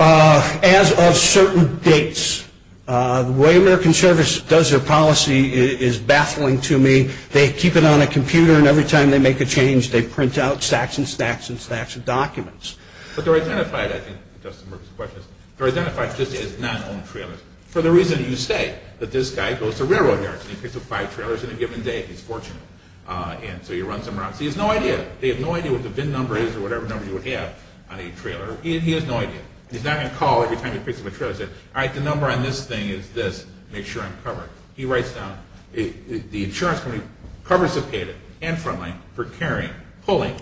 As of certain dates. The way American Service does their policy is baffling to me. They keep it on a computer and every time they make a change, they print out stacks and stacks and stacks of documents. But they're identified just as non-owned trailers. So the reason you say that this guy goes to railroad yards and he picks up five trailers in a given day, he's fortunate. And so you run somewhere else. He has no idea. They have no idea what the VIN number is or whatever number you have on a trailer. He has no idea. He's not going to call every time he picks up a trailer and say, all right, the number on this thing is this. Make sure I'm covered. He writes down, the insurance company covers the data, recurring, pulling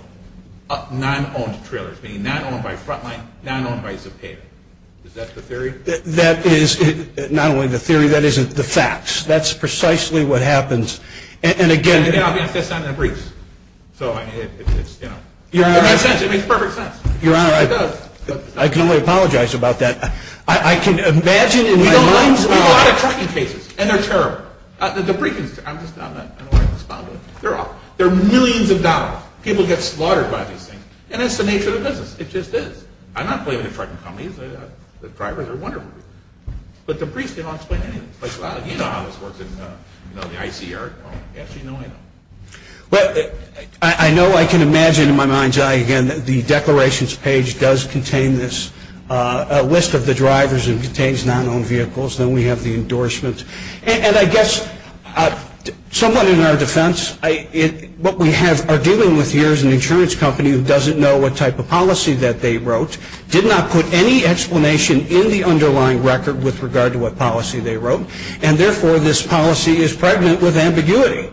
up non-owned trailers, meaning not owned by Frontline, not owned by Zepeda. Is that the theory? That is not only the theory. That is the facts. That's precisely what happens. And, again, it's on the briefs. So it makes perfect sense. Your Honor, I can only apologize about that. I can imagine in my mind. There's a lot of question cases. And they're terrible. The debriefing, I'm just not going to respond to it. There are millions of ballots. People get slaughtered by this thing. And it's the nature of the business. It just is. I'm not blaming the front companies. The drivers are wonderful. But the briefs, they don't explain anything. Like, wow, you know how this works in the icy air. Yes, you know I know. I know I can imagine in my mind's eye, again, that the declarations page does contain this list of the drivers and contains non-owned vehicles. Then we have the endorsement. And I guess somewhat in our defense, what we are dealing with here is an insurance company who doesn't know what type of policy that they wrote, did not put any explanation in the underlying record with regard to what policy they wrote, and therefore this policy is pregnant with ambiguity.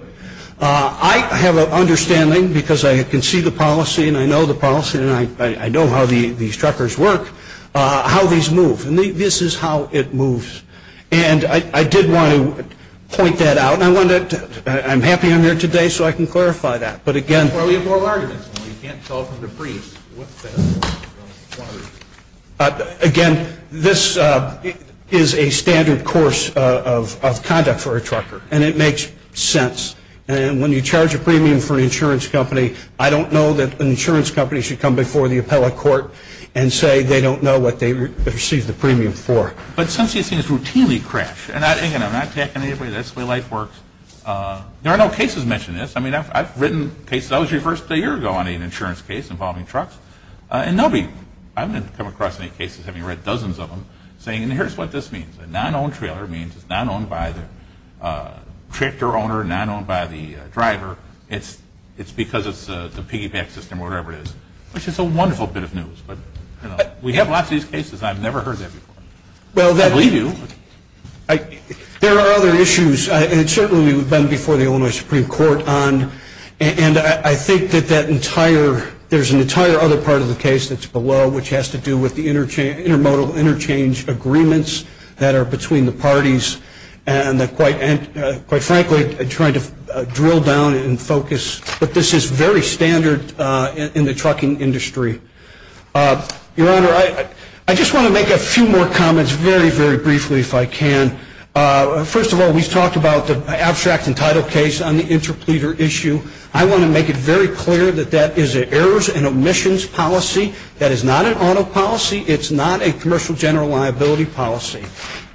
I have an understanding, because I can see the policy and I know the policy and I know how these trackers work, how these move. This is how it moves. And I did want to point that out, and I'm happy I'm here today so I can clarify that. But again, this is a standard course of conduct for a trucker, and it makes sense. And when you charge a premium for an insurance company, I don't know that an insurance company should come before the appellate court and say they don't know what they received the premium for. But some of these things routinely crash. And again, I'm not tapping anybody. That's the way life works. There are no cases mentioning this. I mean, I've written cases. I was reversed a year ago on an insurance case involving trucks. And nobody, I haven't come across any cases, having read dozens of them, saying here's what this means. A non-owned trailer means it's not owned by the tractor owner, not owned by the driver. It's because of the piggyback system or whatever it is. Which is a wonderful bit of news. We have lots of these cases. I've never heard that before. I believe you. There are other issues, and it's certainly been before the Illinois Supreme Court. And I think that there's an entire other part of the case that's below, which has to do with the intermodal interchange agreements that are between the parties and, quite frankly, trying to drill down and focus. But this is very standard in the trucking industry. Your Honor, I just want to make a few more comments very, very briefly if I can. First of all, we've talked about the abstract and title case on the interpleater issue. I want to make it very clear that that is an errors and omissions policy. That is not an auto policy. It's not a commercial general liability policy.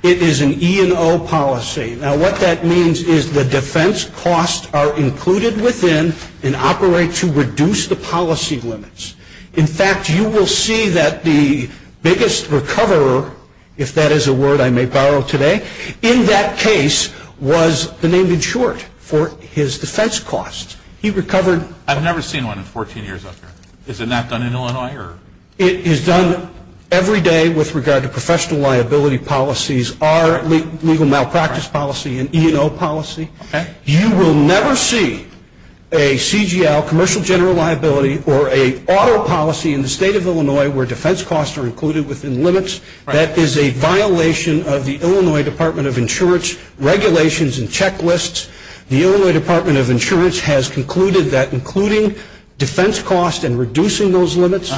It is an E&O policy. Now, what that means is the defense costs are included within and operate to reduce the policy limits. In fact, you will see that the biggest recoverer, if that is a word I may borrow today, in that case was the name in short for his defense costs. He recovered. I've never seen one in 14 years. Is it not done in Illinois? It is done every day with regard to professional liability policies, our legal malpractice policy and E&O policy. You will never see a CGL, commercial general liability, or an auto policy in the state of Illinois where defense costs are included within limits. That is a violation of the Illinois Department of Insurance regulations and checklists. The Illinois Department of Insurance has concluded that including defense costs and reducing those limits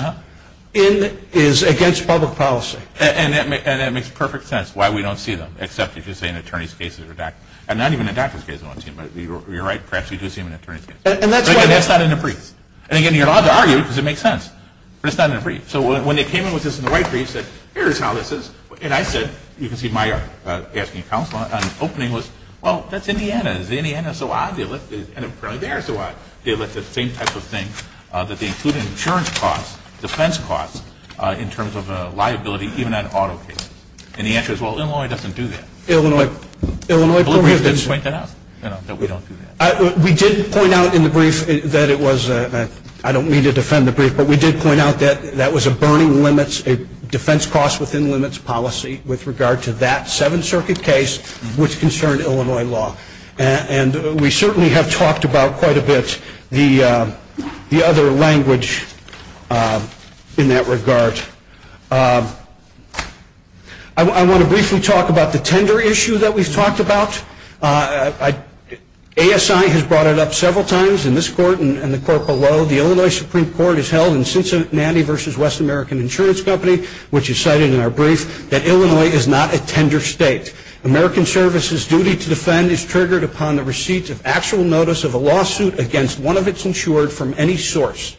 is against public policy. And that makes perfect sense why we don't see them, except if you say an attorney's case is deductible. And not even a doctor's case is deductible. You're right, perhaps we do see them in an attorney's case. And that's not in the brief. And again, you're allowed to argue because it makes sense. That's not in the brief. So when they came in with this in the white brief and said, here's how this is, and I said, you can see my asking counsel, and the opening was, well, that's Indiana. It's Indiana, so I deal with it. And from there, so I deal with the same type of thing, that they include insurance costs, defense costs, in terms of liability, even at an auto case. And the answer is, well, Illinois doesn't do that. Illinois doesn't do that. We did point out in the brief that it was, and I don't mean to defend the brief, but we did point out that that was a burning limits, a defense costs within limits policy with regard to that Seventh Circuit case which concerned Illinois law. And we certainly have talked about quite a bit the other language in that regard. I want to briefly talk about the tender issue that we've talked about. ASI has brought it up several times in this court and the court below. The Illinois Supreme Court has held in Cincinnati v. West American Insurance Company, which is cited in our brief, that Illinois is not a tender state. American service's duty to defend is triggered upon the receipt of actual notice of a lawsuit against one of its insured from any source.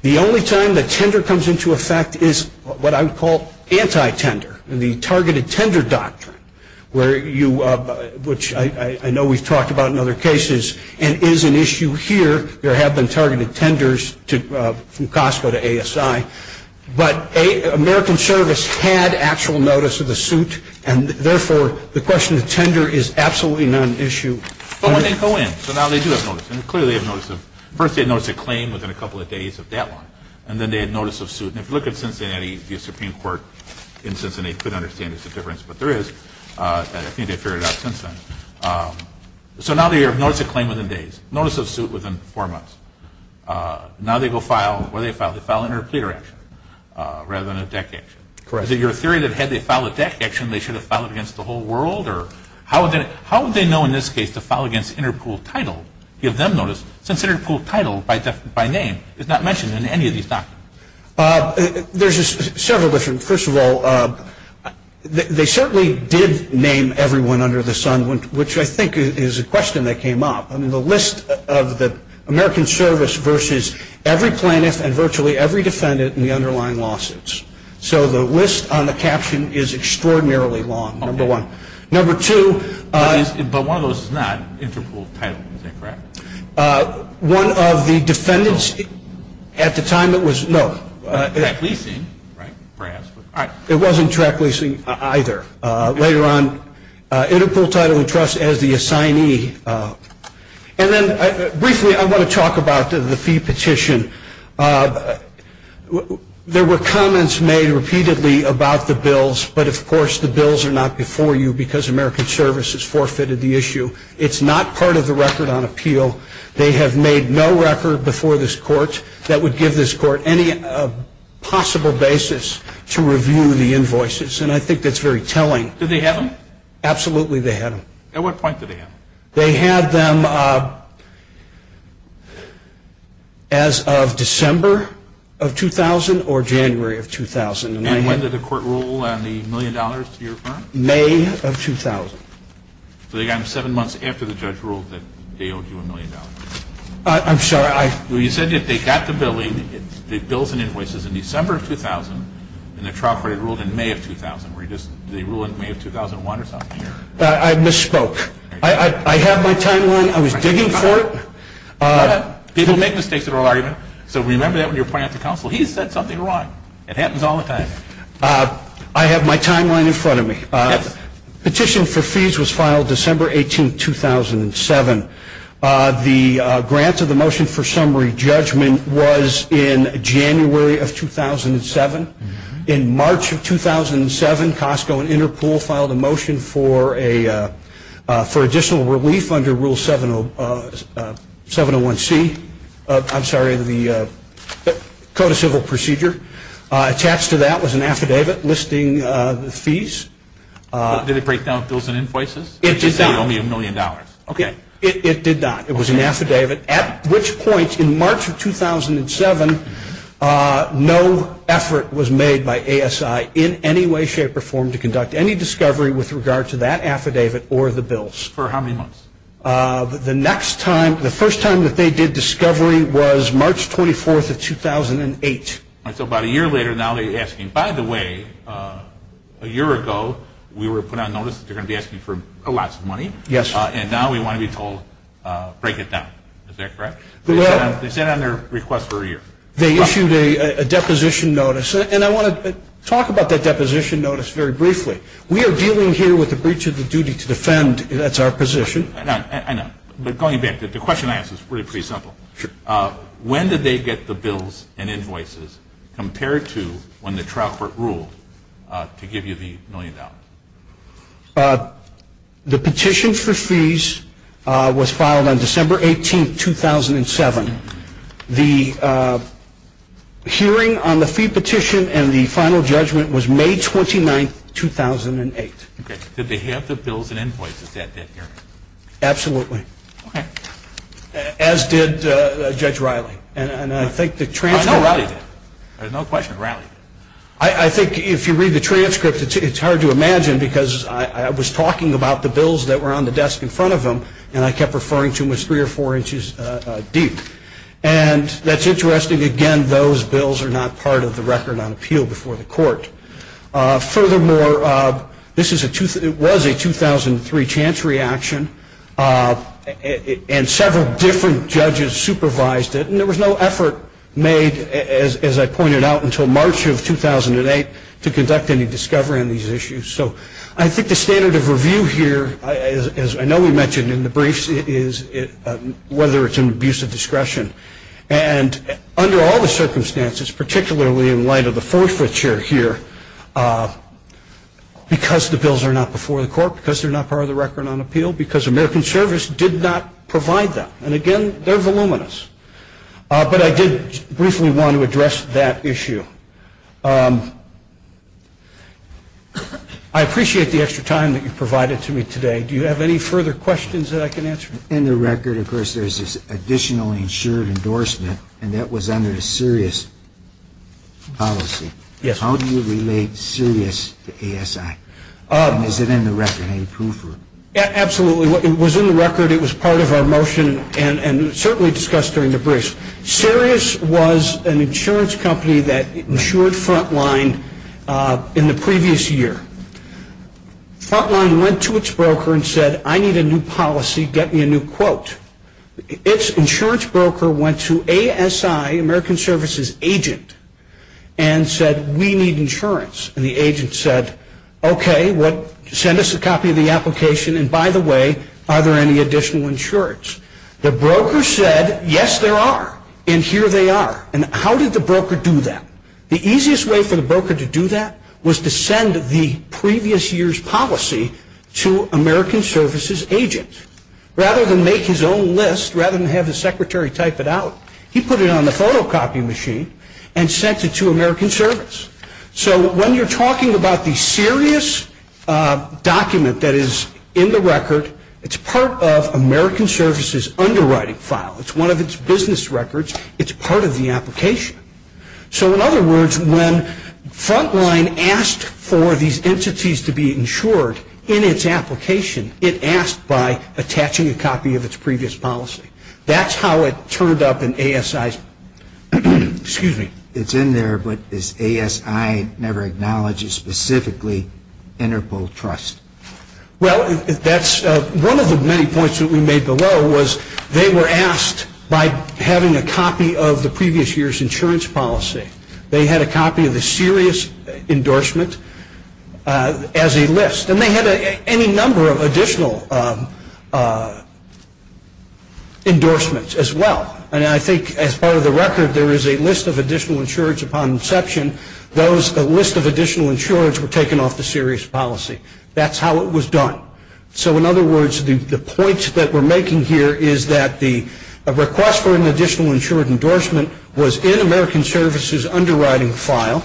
The only time the tender comes into effect is what I would call anti-tender, the targeted tender doctrine, which I know we've talked about in other cases and is an issue here. There have been targeted tenders from Costco to ASI. But American service had actual notice of a suit, and therefore the question of tender is absolutely not an issue. Well, it didn't go in, so now they do have notice, and clearly they have notice of, first they had notice of claim within a couple of days of that one, and then they had notice of suit. And if you look at Cincinnati, the Supreme Court in Cincinnati could understand the difference, but there is, and I think they've figured it out since then. So now they have notice of claim within days, notice of suit within four months. Now they go file, or they file an interpreter action rather than a deck action. Correct. Is it your theory that had they filed a deck action, they should have filed it against the whole world? How would they know in this case to file against Interpool's title, give them notice, since Interpool's title by name is not mentioned in any of these documents? There's several different, first of all, they certainly did name everyone under the sun, which I think is a question that came up. The list of the American service versus every plaintiff and virtually every defendant in the underlying lawsuits. So the list on the caption is extraordinarily long, number one. Number two. But one of those is not Interpool's title, correct? One of the defendants, at the time it was, no. Track leasing, right, perhaps. It wasn't track leasing either. Later on, Interpool title and trust as the assignee. And then briefly I want to talk about the fee petition. There were comments made repeatedly about the bills, but of course the bills are not before you because American service has forfeited the issue. It's not part of the record on appeal. They have made no record before this court that would give this court any possible basis to review the invoices, and I think that's very telling. Did they have them? Absolutely they had them. At what point did they have them? They had them as of December of 2000 or January of 2000. And when did the court rule on the million dollars to be referred? May of 2000. So they got them seven months after the judge ruled that they owed you a million dollars. I'm sorry. When you said that they got the billing, the bills and invoices in December of 2000, and the trial period ruled in May of 2000. Did they rule in May of 2001 or something? I misspoke. I had my timeline. I was digging for it. People make mistakes in their argument, so remember that when you're applying for counsel. He said something wrong. It happens all the time. I have my timeline in front of me. Petition for fees was filed December 18, 2007. The grant of the motion for summary judgment was in January of 2007. In March of 2007, Costco and Interpol filed a motion for additional relief under Rule 701C. I'm sorry, the Code of Civil Procedure. Attached to that was an affidavit listing the fees. Did it break down bills and invoices? It did not. Only a million dollars. Okay. It did not. It was an affidavit, at which point in March of 2007, no effort was made by ASI in any way, shape, or form to conduct any discovery with regard to that affidavit or the bills. For how many months? The next time, the first time that they did discovery was March 24 of 2008. So about a year later now they're asking, And by the way, a year ago we were put on notice that they're going to be asking for lots of money. Yes. And now we want to be told, break it down. Is that correct? They sat on their request for a year. They issued a deposition notice, and I want to talk about that deposition notice very briefly. We are dealing here with the breach of the duty to defend. That's our position. I know. But going back, the question I ask is really pretty simple. When did they get the bills and invoices compared to when the trial court ruled to give you the million dollars? The petition for fees was filed on December 18, 2007. The hearing on the fee petition and the final judgment was May 29, 2008. Did they have the bills and invoices at that hearing? Absolutely. As did Judge Riley. And I think the transcript. No question. I think if you read the transcript, it's hard to imagine, because I was talking about the bills that were on the desk in front of them, and I kept referring to them as three or four inches deep. And that's interesting. Furthermore, this was a 2003 chance reaction, and several different judges supervised it, and there was no effort made, as I pointed out, until March of 2008 to conduct any discovery on these issues. So I think the standard of review here, as I know we mentioned in the briefs, is whether it's an abuse of discretion. And under all the circumstances, particularly in light of the force that you're here, because the bills are not before the court, because they're not part of the record on appeal, because American Service did not provide them. And, again, they're voluminous. But I did briefly want to address that issue. I appreciate the extra time that you provided to me today. Do you have any further questions that I can answer? In the record, of course, there's this additional insured endorsement, and that was under Sirius policy. Yes. How do you relate Sirius to ASI? Is it in the record? Any proof? Absolutely. It was in the record. It was part of our motion, and certainly discussed during the briefs. Sirius was an insurance company that insured Frontline in the previous year. Frontline went to its broker and said, I need a new policy. Get me a new quote. Its insurance broker went to ASI, American Service's agent, and said, we need insurance. And the agent said, okay, well, send us a copy of the application. And, by the way, are there any additional insurance? The broker said, yes, there are. And here they are. And how did the broker do that? The easiest way for the broker to do that was to send the previous year's policy to American Service's agent. Rather than make his own list, rather than have his secretary type it out, he put it on the photocopy machine and sent it to American Service. So, when you're talking about the Sirius document that is in the record, it's part of American Service's underwriting file. It's one of its business records. It's part of the application. So, in other words, when Frontline asked for these entities to be insured in its application, it asked by attaching a copy of its previous policy. That's how it turned up in ASI's, excuse me. It's in there, but ASI never acknowledges specifically Interpol Trust. Well, that's one of the many points that we made below, was they were asked by having a copy of the previous year's insurance policy. They had a copy of the Sirius endorsement as a list. And they had any number of additional endorsements as well. And I think, as part of the record, there is a list of additional insurance upon inception. The list of additional insurance were taken off the Sirius policy. That's how it was done. So, in other words, the points that we're making here is that the request for an additional insured endorsement was in American Service's underwriting file.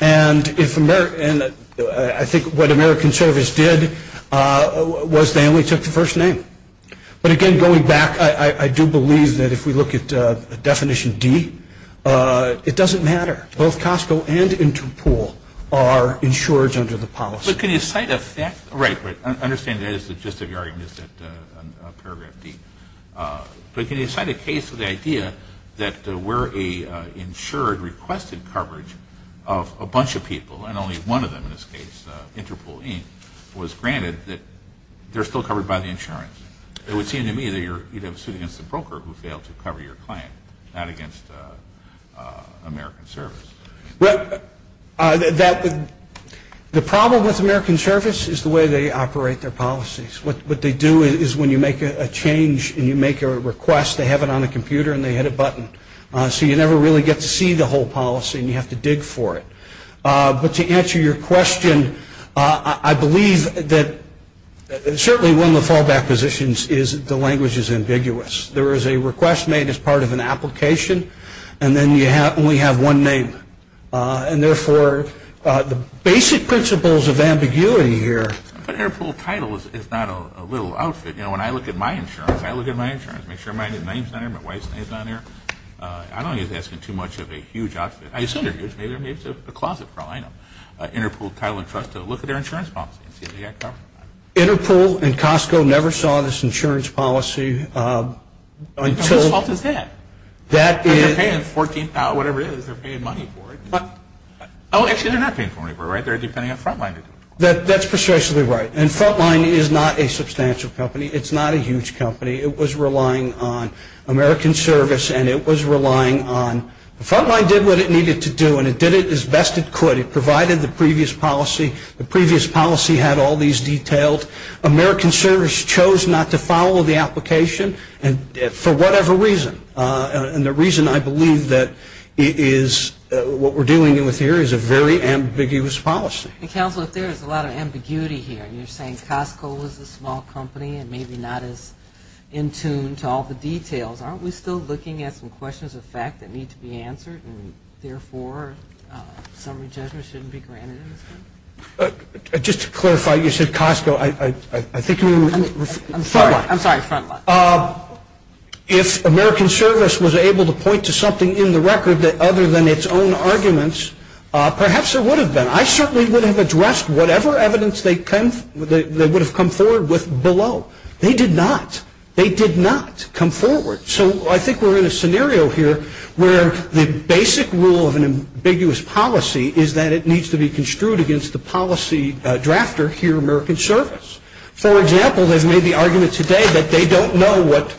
And I think what American Service did was they only took the first name. But, again, going back, I do believe that if we look at definition D, it doesn't matter. Both Costco and Interpol are insured under the policy. So can you cite a- Right, right. I understand there is a gist of your argument, a paragraph deep. But can you cite a case of the idea that there were an insured requested coverage of a bunch of people, and only one of them in this case, Interpol Inc., was granted that they're still covered by the insurance? It would seem to me that you're suing against a broker who failed to cover your client, not against American Service. Well, the problem with American Service is the way they operate their policies. What they do is when you make a change and you make a request, they have it on a computer and they hit a button. So you never really get to see the whole policy, and you have to dig for it. But to answer your question, I believe that certainly one of the fallback positions is the language is ambiguous. There is a request made as part of an application, and then you only have one name. And therefore, the basic principles of ambiguity here- But Interpol title is not a little outfit. You know, when I look at my insurance, I look at my insurance, make sure mine is name centered and my wife's name is on there. I don't think that's too much of a huge outfit. I've seen it. It's a closet problem. Interpol title and trust, look at their insurance policy. Interpol and Costco never saw this insurance policy until- How much is that? That is- They're paying $14,000, whatever it is. They're paying money for it. Oh, actually, they're not paying money for it, right? They're depending on Frontline. That's precisely right. And Frontline is not a substantial company. It's not a huge company. It was relying on American Service, and it was relying on- Frontline did what it needed to do, and it did it as best it could. It provided the previous policy. The previous policy had all these details. American Service chose not to follow the application for whatever reason, and the reason, I believe, that it is- what we're dealing with here is a very ambiguous policy. And, Councilman, there is a lot of ambiguity here. You're saying Costco is a small company and maybe not as in tune to all the details. Therefore, some agenda shouldn't be granted. Just to clarify, you said Costco. I think you were- I'm sorry. I'm sorry, Frontline. If American Service was able to point to something in the record that other than its own arguments, perhaps there would have been. I certainly would have addressed whatever evidence they would have come forward with below. They did not. They did not come forward. So I think we're in a scenario here where the basic rule of an ambiguous policy is that it needs to be construed against the policy drafter here at American Service. For example, they've made the argument today that they don't know what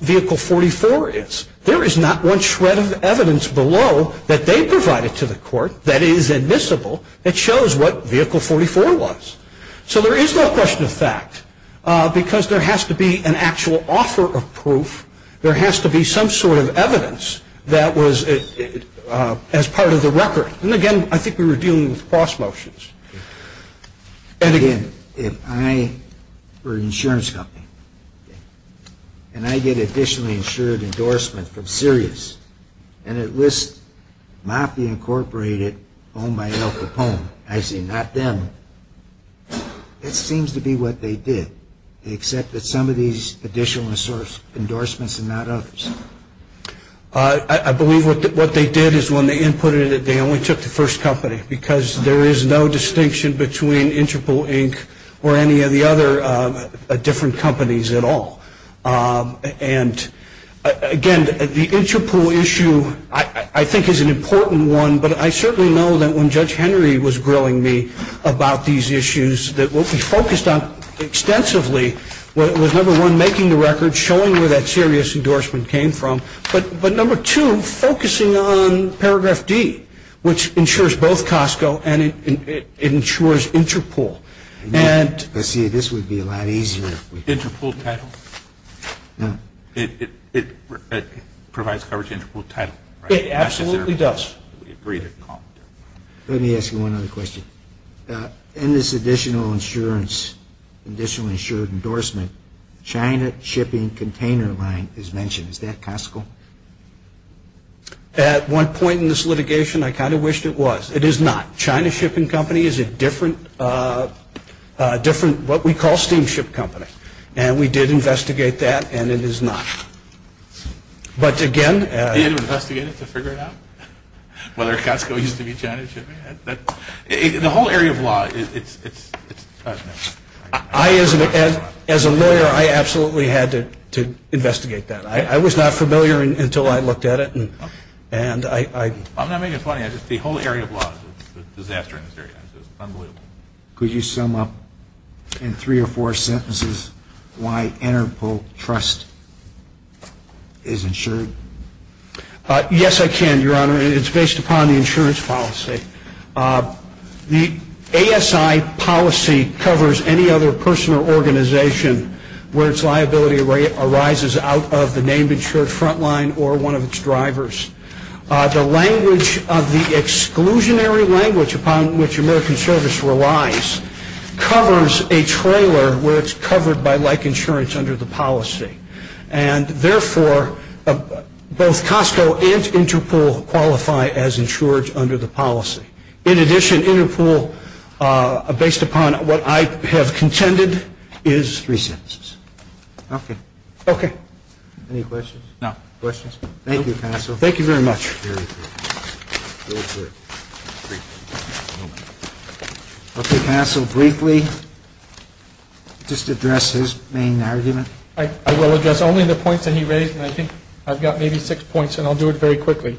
Vehicle 44 is. There is not one shred of evidence below that they provided to the court that is admissible that shows what Vehicle 44 was. So there is no question of fact because there has to be an actual offer of proof. There has to be some sort of evidence that was as part of the record. And again, I think we were dealing with cross motions. And again, if I were an insurance company and I get additionally insured endorsement from Sirius and it lists Mafia Incorporated, Oh My Elka Home, as in not them, it seems to be what they did. They accepted some of these additional endorsements and not others. I believe what they did is when they inputted it, they only took the first company because there is no distinction between Interpol, Inc. or any of the other different companies at all. And again, the Interpol issue I think is an important one, but I certainly know that when Judge Henry was growing me about these issues, that what he focused on extensively was number one, making the record, showing where that Sirius endorsement came from, but number two, focusing on Paragraph D, which insures both Costco and it insures Interpol. Let's see, this would be a lot easier. Interpol title? No. It provides coverage Interpol title, right? It absolutely does. Let me ask you one other question. In this additional insurance, additional insured endorsement, China Shipping Container Line is mentioned. Is that Costco? At one point in this litigation, I kind of wished it was. It is not. China Shipping Company is a different, what we call, steam ship company, and we did investigate that, and it is not. But again, as a lawyer, I absolutely had to investigate that. I was not familiar until I looked at it. I'm not making it funny. It's just the whole area of law is a disaster in this area. It's unbelievable. Could you sum up in three or four sentences why Interpol Trust is insured? Yes, I can, Your Honor. It's based upon the insurance policy. The ASI policy covers any other person or organization where its liability arises out of the named insured front line or one of its drivers. The language of the exclusionary language upon which American service relies covers a trailer where it's covered by like insurance under the policy. And therefore, both Costco and Interpol qualify as insured under the policy. In addition, Interpol, based upon what I have contended, is three sentences. Okay. Okay. Any questions? No. Questions? Thank you, counsel. Thank you very much. Very good. Okay, counsel, briefly, just address his main argument. I will address only the points that he raised, and I think I've got maybe six points, and I'll do it very quickly.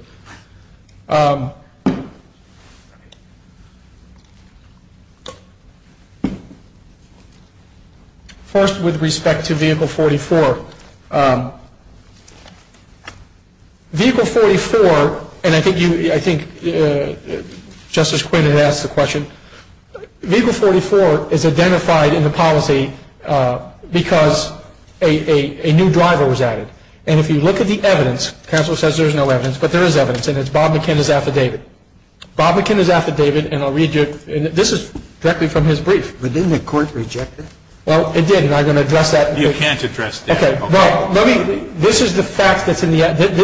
First, with respect to Vehicle 44. Vehicle 44, and I think Justice Quinn had asked the question, Vehicle 44 is identified in the policy because a new driver was added. And if you look at the evidence, counsel says there's no evidence, but there is evidence, and it's Bob McKenna's affidavit. Bob McKenna's affidavit, and I'll read you it, and this is directly from his brief. But didn't the court reject it? Well, it did, and I'm going to address that. You can't address it. Okay. Right. This is the fact that's in the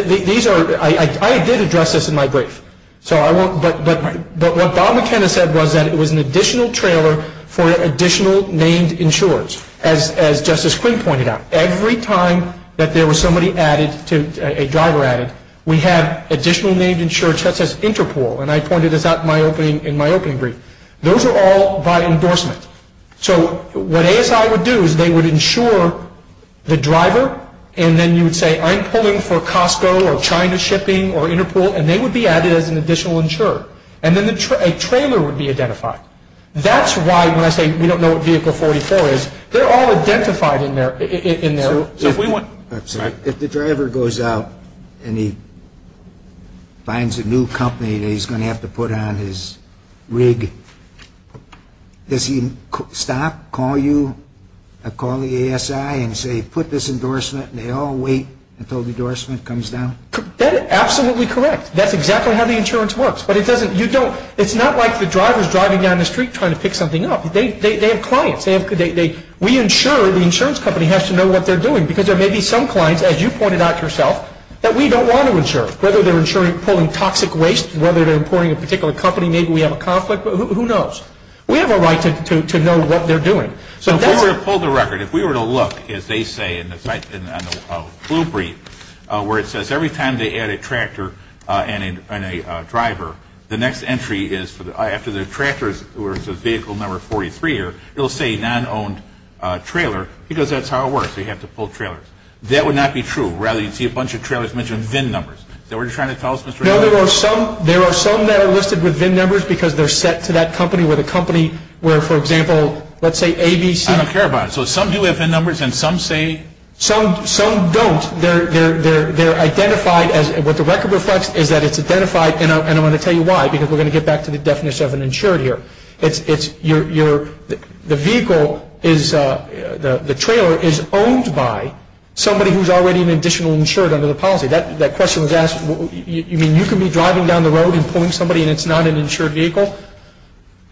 affidavit. I did address this in my brief, but what Bob McKenna said was that it was an additional trailer for additional named insurers, as Justice Quinn pointed out. Every time that there was somebody added, a driver added, we have additional named insurers, such as Interpol, and I pointed this out in my opening brief. Those are all by endorsement. So what ASI would do is they would insure the driver, and then you would say, I'm pulling for Costco or China Shipping or Interpol, and they would be added as an additional insurer. And then a trailer would be identified. That's why when I say we don't know what Vehicle 44 is, they're all identified in there. So if the driver goes out and he finds a new company that he's going to have to put on his rig, does he stop, call you, call the ASI and say put this endorsement, and they all wait until the endorsement comes down? That is absolutely correct. That's exactly how the insurance works. But it's not like the driver's driving down the street trying to pick something up. They have clients. We insurer, the insurance company, has to know what they're doing, because there may be some clients, as you pointed out yourself, that we don't want to insure, whether they're pulling toxic waste, whether they're importing a particular company, maybe we have a conflict, but who knows? We have a right to know what they're doing. If we were to pull the record, if we were to look, as they say, in the blue brief where it says every time they add a tractor and a driver, the next entry is after the tractor or the vehicle number 43, it will say non-owned trailer, because that's how it works. We have to pull trailers. That would not be true. Rather, you'd see a bunch of trailers mentioned with VIN numbers. Is that what you're trying to tell us, Mr. Miller? No, there are some that are listed with VIN numbers because they're set to that company or the company where, for example, let's say ABC. I don't care about it. So some do have VIN numbers and some say? Some don't. They're identified as what the record reflects is that it's identified, and I'm going to tell you why, because we're going to get back to the definition of an insured here. The trailer is owned by somebody who's already an additional insured under the policy. That question was asked, you mean you can be driving down the road and pulling somebody and it's not an insured vehicle?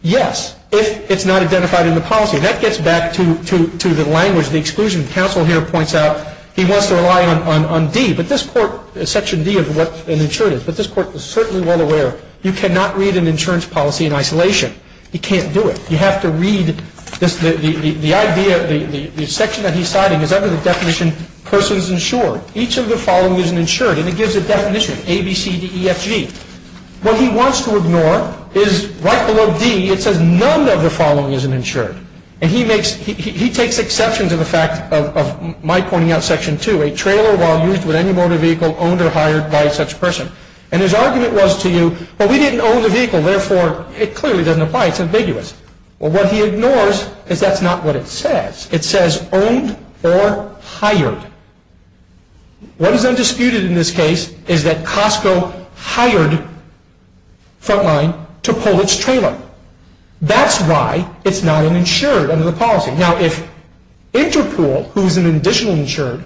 Yes, if it's not identified in the policy. That gets back to the language, the exclusion. The counsel here points out he wants to rely on B, but this court, Section D is what an insured is, but this court is certainly well aware you cannot read an insurance policy in isolation. You can't do it. You have to read the section that he's citing is under the definition person is insured. Each of the following is an insured, and it gives a definition, A, B, C, D, E, F, G. What he wants to ignore is right below D it says none of the following is an insured, and he takes exception to the fact of my pointing out Section 2, a trailer while used with any motor vehicle owned or hired by such person. And his argument was to you, well, we didn't own the vehicle, therefore it clearly doesn't apply. It's obliguous. Well, what he ignores is that's not what it says. It says owned or hired. What has been disputed in this case is that Costco hired someone to pull its trailer. That's why it's not an insured under the policy. Now, if Interpol, who is an additional insured,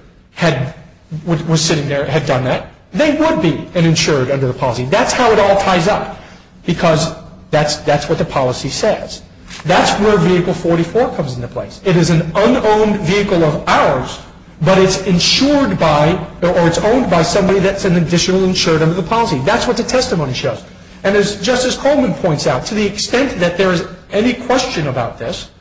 was sitting there and had done that, they would be an insured under the policy. That's how it all ties up because that's what the policy says. That's where Vehicle 44 comes into play. It is an unowned vehicle of ours, but it's insured by or it's owned by somebody that's an additional insured under the policy. That's what the testimony shows. And as Justice Coleman points out, to the extent that there's any question about this,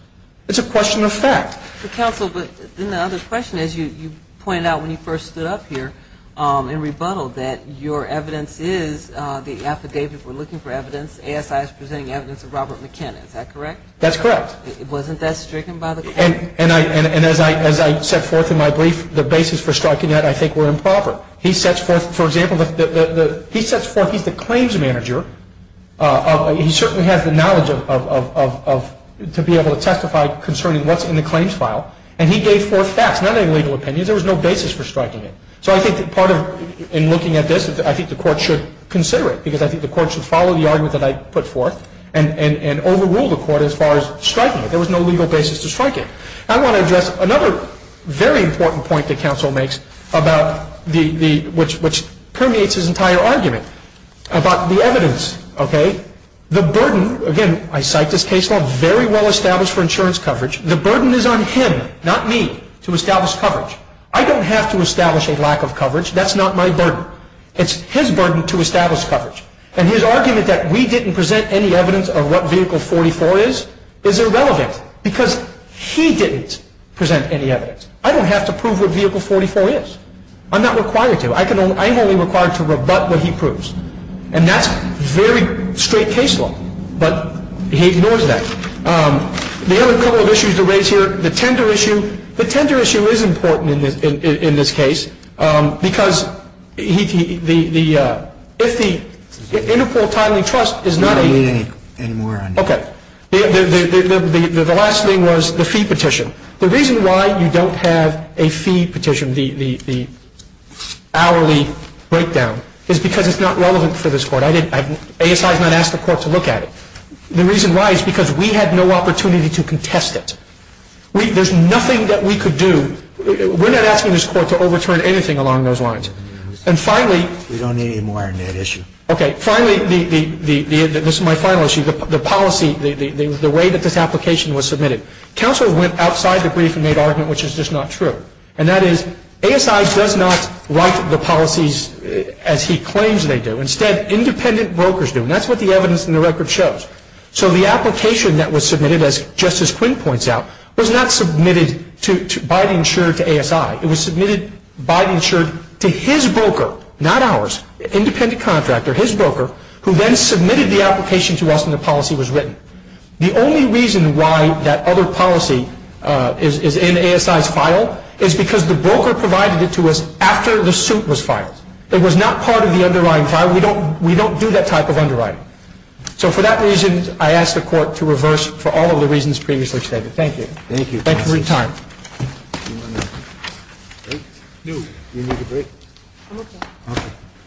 it's a question of fact. Counsel, but then the other question is you pointed out when you first stood up here and rebuttaled that your evidence is the affidavit we're looking for evidence, AFI is presenting evidence of Robert McKinnon. Is that correct? That's correct. It wasn't that stricken by the claim? And as I set forth in my brief, the basis for striking that I think were improper. He sets forth, for example, he sets forth he's the claims manager. He certainly has the knowledge to be able to testify concerning what's in the claims file. And he gave forth facts, not any legal opinion. There was no basis for striking it. So I think part of in looking at this is I think the court should consider it because I think the court should follow the argument that I put forth and overrule the court as far as striking it. There was no legal basis to strike it. I want to address another very important point that counsel makes which permeates his entire argument about the evidence. The burden, again, I cite this case very well established for insurance coverage. The burden is on him, not me, to establish coverage. I don't have to establish a lack of coverage. That's not my burden. It's his burden to establish coverage. And his argument that we didn't present any evidence of what vehicle 44 is is irrelevant because he didn't present any evidence. I don't have to prove what vehicle 44 is. I'm not required to. I'm only required to rebut what he proves. And that's very straight case law. But he ignores that. The other couple of issues that are raised here, the tender issue. The tender issue is important in this case because if the interquartile trust is not the case. Okay. The last thing was the fee petition. The reason why you don't have a fee petition, the hourly breakdown, is because it's not relevant for this court. ASI has not asked the court to look at it. The reason why is because we had no opportunity to contest it. There's nothing that we could do. We're not asking this court to overturn anything along those lines. And finally. We don't need any more on that issue. Okay. Finally, this is my final issue. The policy, the way that this application was submitted. Counsel went outside the brief and made an argument which is just not true. And that is ASI does not write the policies as he claims they do. Instead, independent brokers do. And that's what the evidence in the record shows. So the application that was submitted, as Justice Quinn points out, was not submitted by the insurer to ASI. It was submitted by the insurer to his broker, not ours, independent contractor, his broker, who then submitted the application to us and the policy was written. The only reason why that other policy is in ASI's file is because the broker provided it to us after the suit was filed. It was not part of the underlying file. We don't do that type of underwriting. So for that reason, I ask the court to reverse for all of the reasons previously stated. Thank you. Thank you. Thank you for your time.